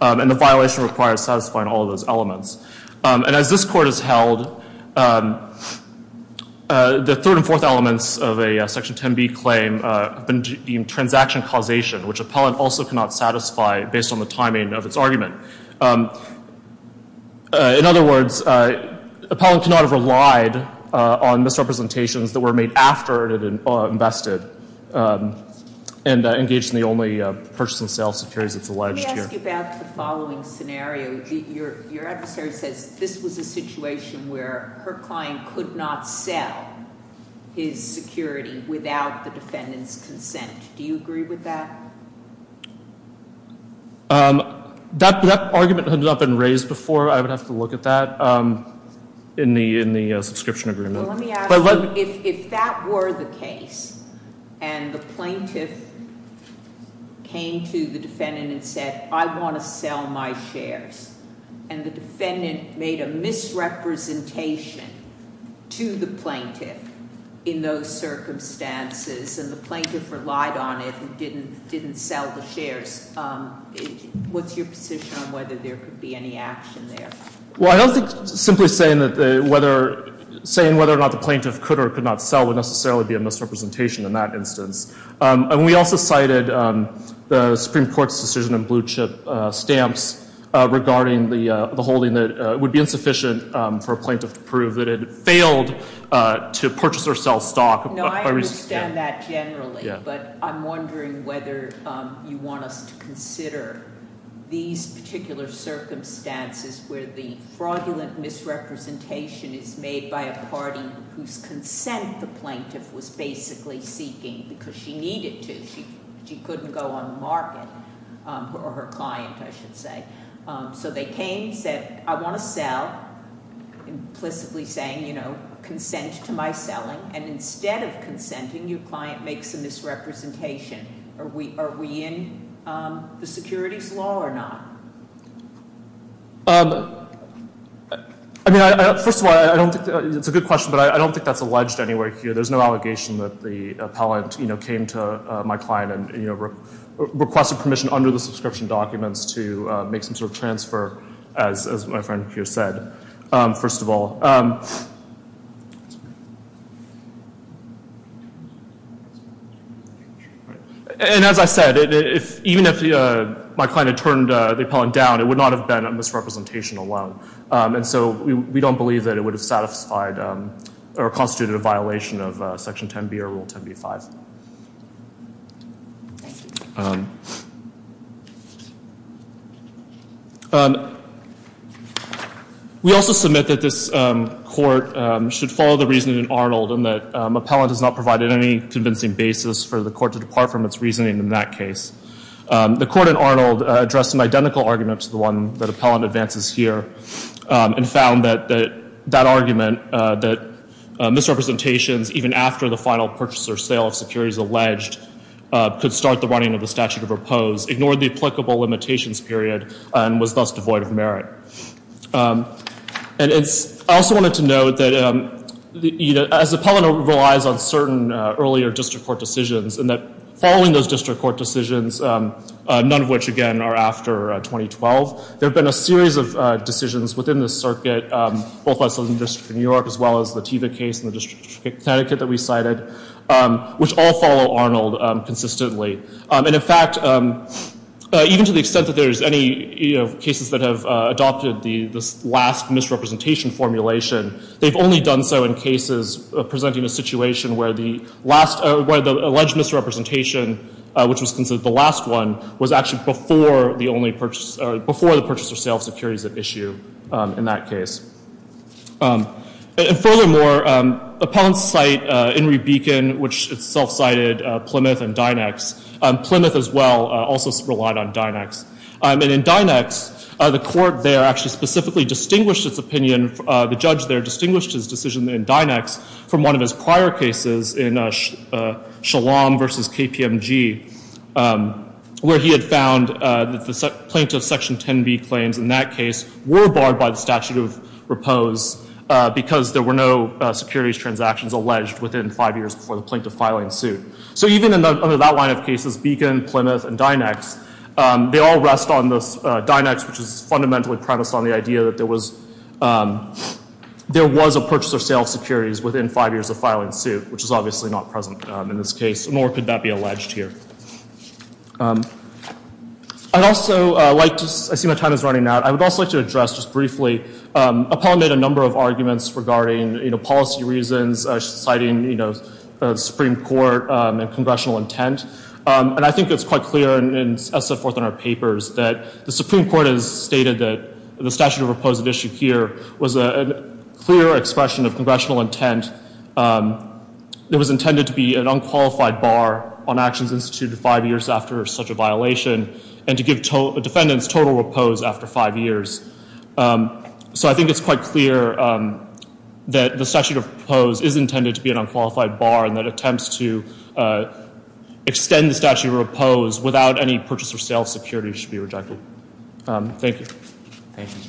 And the violation requires satisfying all of those elements. And as this court has held, the third and fourth elements of a Section 10b claim in transaction causation, which Apollon also cannot satisfy based on the timing of its argument. In other words, Apollon cannot have relied on misrepresentations that were made after it had invested and engaged in the only purchase and sale securities that's alleged here. Let me ask you about the following scenario. Your advocate said this was a situation where her client could not sell his securities without the defendant's consent. Do you agree with that? That argument has not been raised before. I would have to look at that in the subscription agreement. If that were the case and the plaintiff came to the defendant and said, I want to sell my shares, and the defendant made a misrepresentation to the plaintiff in those circumstances and the plaintiff relied on it and didn't sell the shares, what's your position on whether there could be any action there? Well, I hope it's simply saying whether or not the plaintiff could or could not sell would necessarily be a misrepresentation in that instance. And we also cited the Supreme Court's decision on blue chip stamps regarding the holding that would be insufficient for a plaintiff to prove that it failed to purchase or sell stock. but I'm wondering whether you want us to consider these particular circumstances where the fraudulent misrepresentation is made by a party whose consent the plaintiff was basically seeking because she needed to. She couldn't go on the market or her clients, I should say. So they came and said, I want to sell, implicitly saying, you know, consent to my selling, and instead of consenting, your client makes a misrepresentation. Are we in the security flaw or not? First of all, it's a good question, but I don't think that's alleged anywhere here. There's no allegation that the appellant came to my client and requested permission under the subscription documents to make some sort of transfer, as my friend here said, first of all. And as I said, even if my client had turned the appellant down, it would not have been a misrepresentation alone. And so we don't believe that it would have satisfied or constituted a violation of Section 10b or Rule 10b-5. We also submit that this court should follow the reasoning in Arnold in that appellant has not provided any convincing basis for the court to depart from its reasoning in that case. The court in Arnold addressed an identical argument to the one that appellant advances here and found that that argument, that misrepresentations, even after the final purchase or sale of securities alleged, could start the running of the statute of repose, ignored the applicable limitations period, and was thus devoid of merit. And I also wanted to note that as the appellant relies on certain earlier district court decisions, and that following those district court decisions, none of which, again, are after 2012, there have been a series of decisions within the circuit, both outside the District of New York as well as the Teva case and the District of Connecticut that we cited, which all follow Arnold consistently. And in fact, even to the extent that there's any cases that have adopted this last misrepresentation formulation, they've only done so in cases presenting a situation where the alleged misrepresentation, which was considered the last one, was actually before the only purchase, before the purchase or sale of securities at issue in that case. And furthermore, appellants cite Enri Beacon, which self-cited Plymouth and Dynex. Plymouth as well also relied on Dynex. And in Dynex, the court there actually specifically distinguished this opinion, the judge there distinguished his decision in Dynex from one of his prior cases in Shalom v. KPMG where he had found that the plaintiff's Section 10b claims in that case were barred by the statute of repose because there were no securities transactions alleged within five years of the plaintiff filing suit. So even under that line of cases, Beacon, Plymouth, and Dynex, they all rest on the Dynex, that there was a purchase or sale of securities within five years of filing suit, which is obviously not present in this case, nor could that be alleged here. I'd also like to, I see my time is running out, I would also like to address just briefly, appellant made a number of arguments regarding policy reasons, citing Supreme Court and congressional intent. And I think it's quite clear in SF-400 papers that the Supreme Court has stated that the statute of repose at issue here was a clear expression of congressional intent. It was intended to be an unqualified bar on actions instituted five years after such a violation and to give defendants total repose after five years. So I think it's quite clear that the statute of repose is intended to be an unqualified bar and that attempts to extend the statute of repose without any purchase or sale of securities should be rejected. Thank you. Thank you.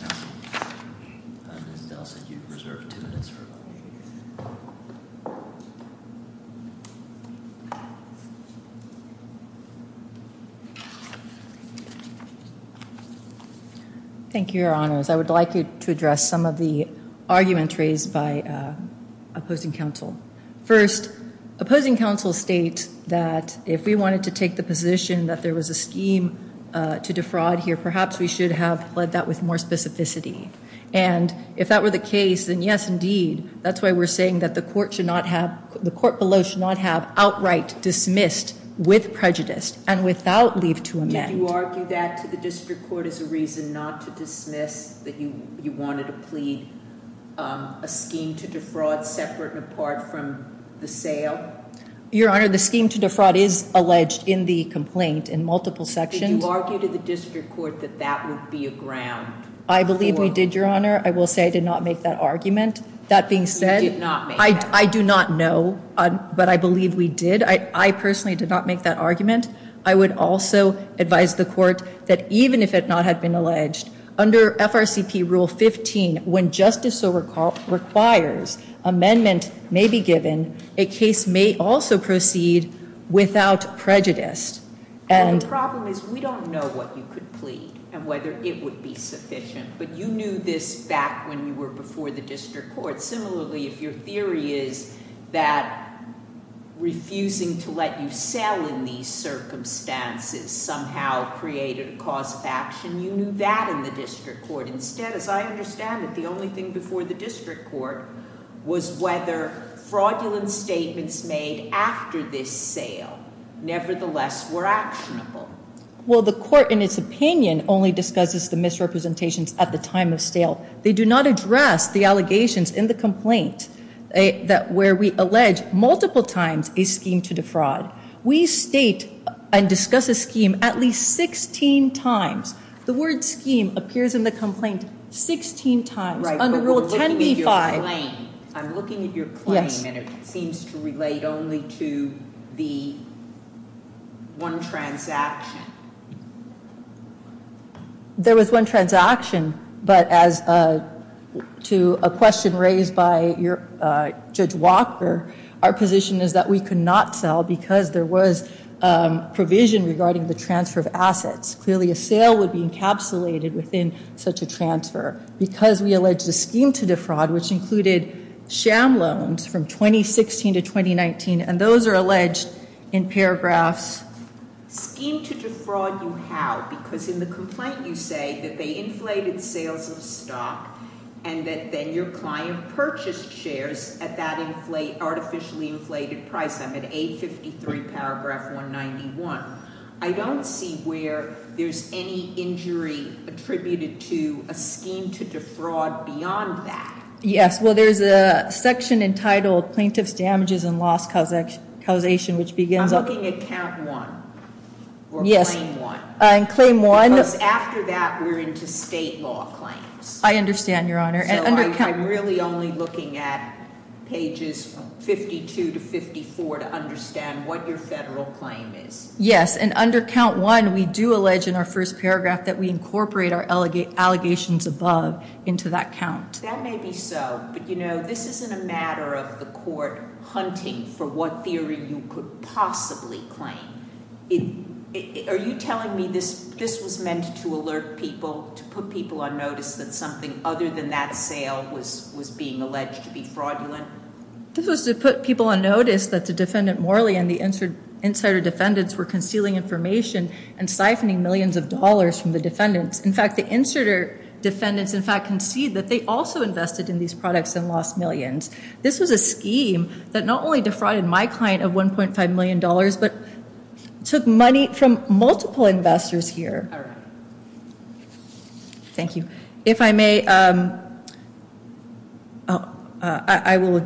Thank you, Your Honors. I would like to address some of the arguments raised by opposing counsel. First, opposing counsel states that if we wanted to take the position that there was a scheme to defraud here, perhaps we should have led that with more specificity. And if that were the case, then yes, indeed. That's why we're saying that the court should not have... The court below should not have outright dismissed with prejudice and without leave to amend. Did you argue that the district court is a reason not to dismiss that you wanted to plead a scheme to defraud separate and apart from the sale? Your Honor, the scheme to defraud is alleged in the complaint in multiple sections. Did you argue to the district court that that would be a ground... I believe we did, Your Honor. I will say I did not make that argument. That being said, I do not know. But I believe we did. I personally did not make that argument. I would also advise the court that even if it not have been alleged, under FRCP Rule 15, when justice requires amendment may be given, a case may also proceed without prejudice. The problem is we don't know what you could plead and whether it would be sufficient. But you knew this back when you were before the district court. Similarly, if your theory is that refusing to let you sell in these circumstances somehow created a cause of action, you knew that in the district court. Instead, as I understand it, the only thing before the district court was whether fraudulent statements made after this sale nevertheless were actionable. Well, the court, in its opinion, only discusses the misrepresentations at the time of sale. They do not address the allegations in the complaint where we allege multiple times a scheme to defraud. We state and discuss a scheme at least 16 times. The word scheme appears in the complaint 16 times. Right, but we're looking at your claim. I'm looking at your claim, and it seems to relate only to the one transaction. There was one transaction, but as to a question raised by Judge Walker, our position is that we could not sell because there was provision regarding the transfer of assets. Clearly, a sale would be encapsulated within such a transfer. Because we allege the scheme to defraud, which included sham loans from 2016 to 2019, and those are alleged in paragraphs. Scheme to defraud you how? Because in the complaint you say that they inflated sales with stock and that then your client purchased shares at that artificially inflated price. I'm at 853 paragraph 191. I don't see where there's any injury attributed to a scheme to defraud beyond that. Yes, well, there's a section entitled plaintiff's damages and loss causation, which begins... I'm looking at count one or claim one. Yes, claim one. Because after that, we're into state law claims. I understand, Your Honor. I'm really only looking at pages 52 to 54 to understand what your federal claim is. Yes, and under count one, we do allege in our first paragraph that we incorporate our allegations above into that count. That may be so, but this isn't a matter of the court hunting for what theory you could possibly claim. Are you telling me this was meant to alert people, to put people on notice that something other than that sale was being alleged to be fraudulent? This was to put people on notice that the defendant Morley and the insider defendants were concealing information and stifling millions of dollars from the defendants. In fact, the insider defendants, in fact, conceived that they also invested in these products and lost millions. This is a scheme that not only defrauded my client of $1.5 million, but took money from multiple investors here. All right. Thank you. If I may... I will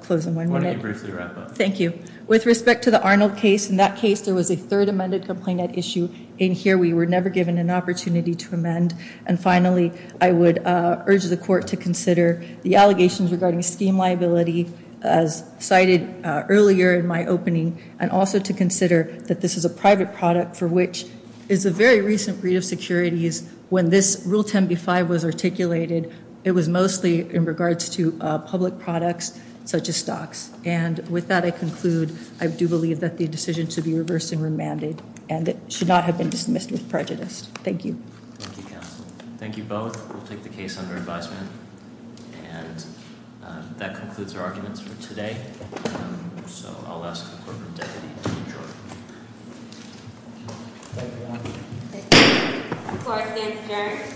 close in one minute. Why don't you briefly wrap up? Thank you. With respect to the Arnold case, in that case, there was a third amended subpoenaed issue. In here, we were never given an opportunity to amend. And finally, I would urge the court to consider the allegations regarding scheme liability as cited earlier in my opening and also to consider that this is a private product for which it's a very recent breach of securities when this Rule 10b-5 was articulated. It was mostly in regards to public products, such as stocks. And with that, I conclude. I do believe that the decision should be reversed and remanded, and it should not have been dismissed with prejudice. Thank you. Thank you, counsel. Thank you both. We'll take the case under advisement. And that concludes our arguments for today. So I'll ask the court to adjourn. Thank you. Thank you. Court is adjourned. Thank you.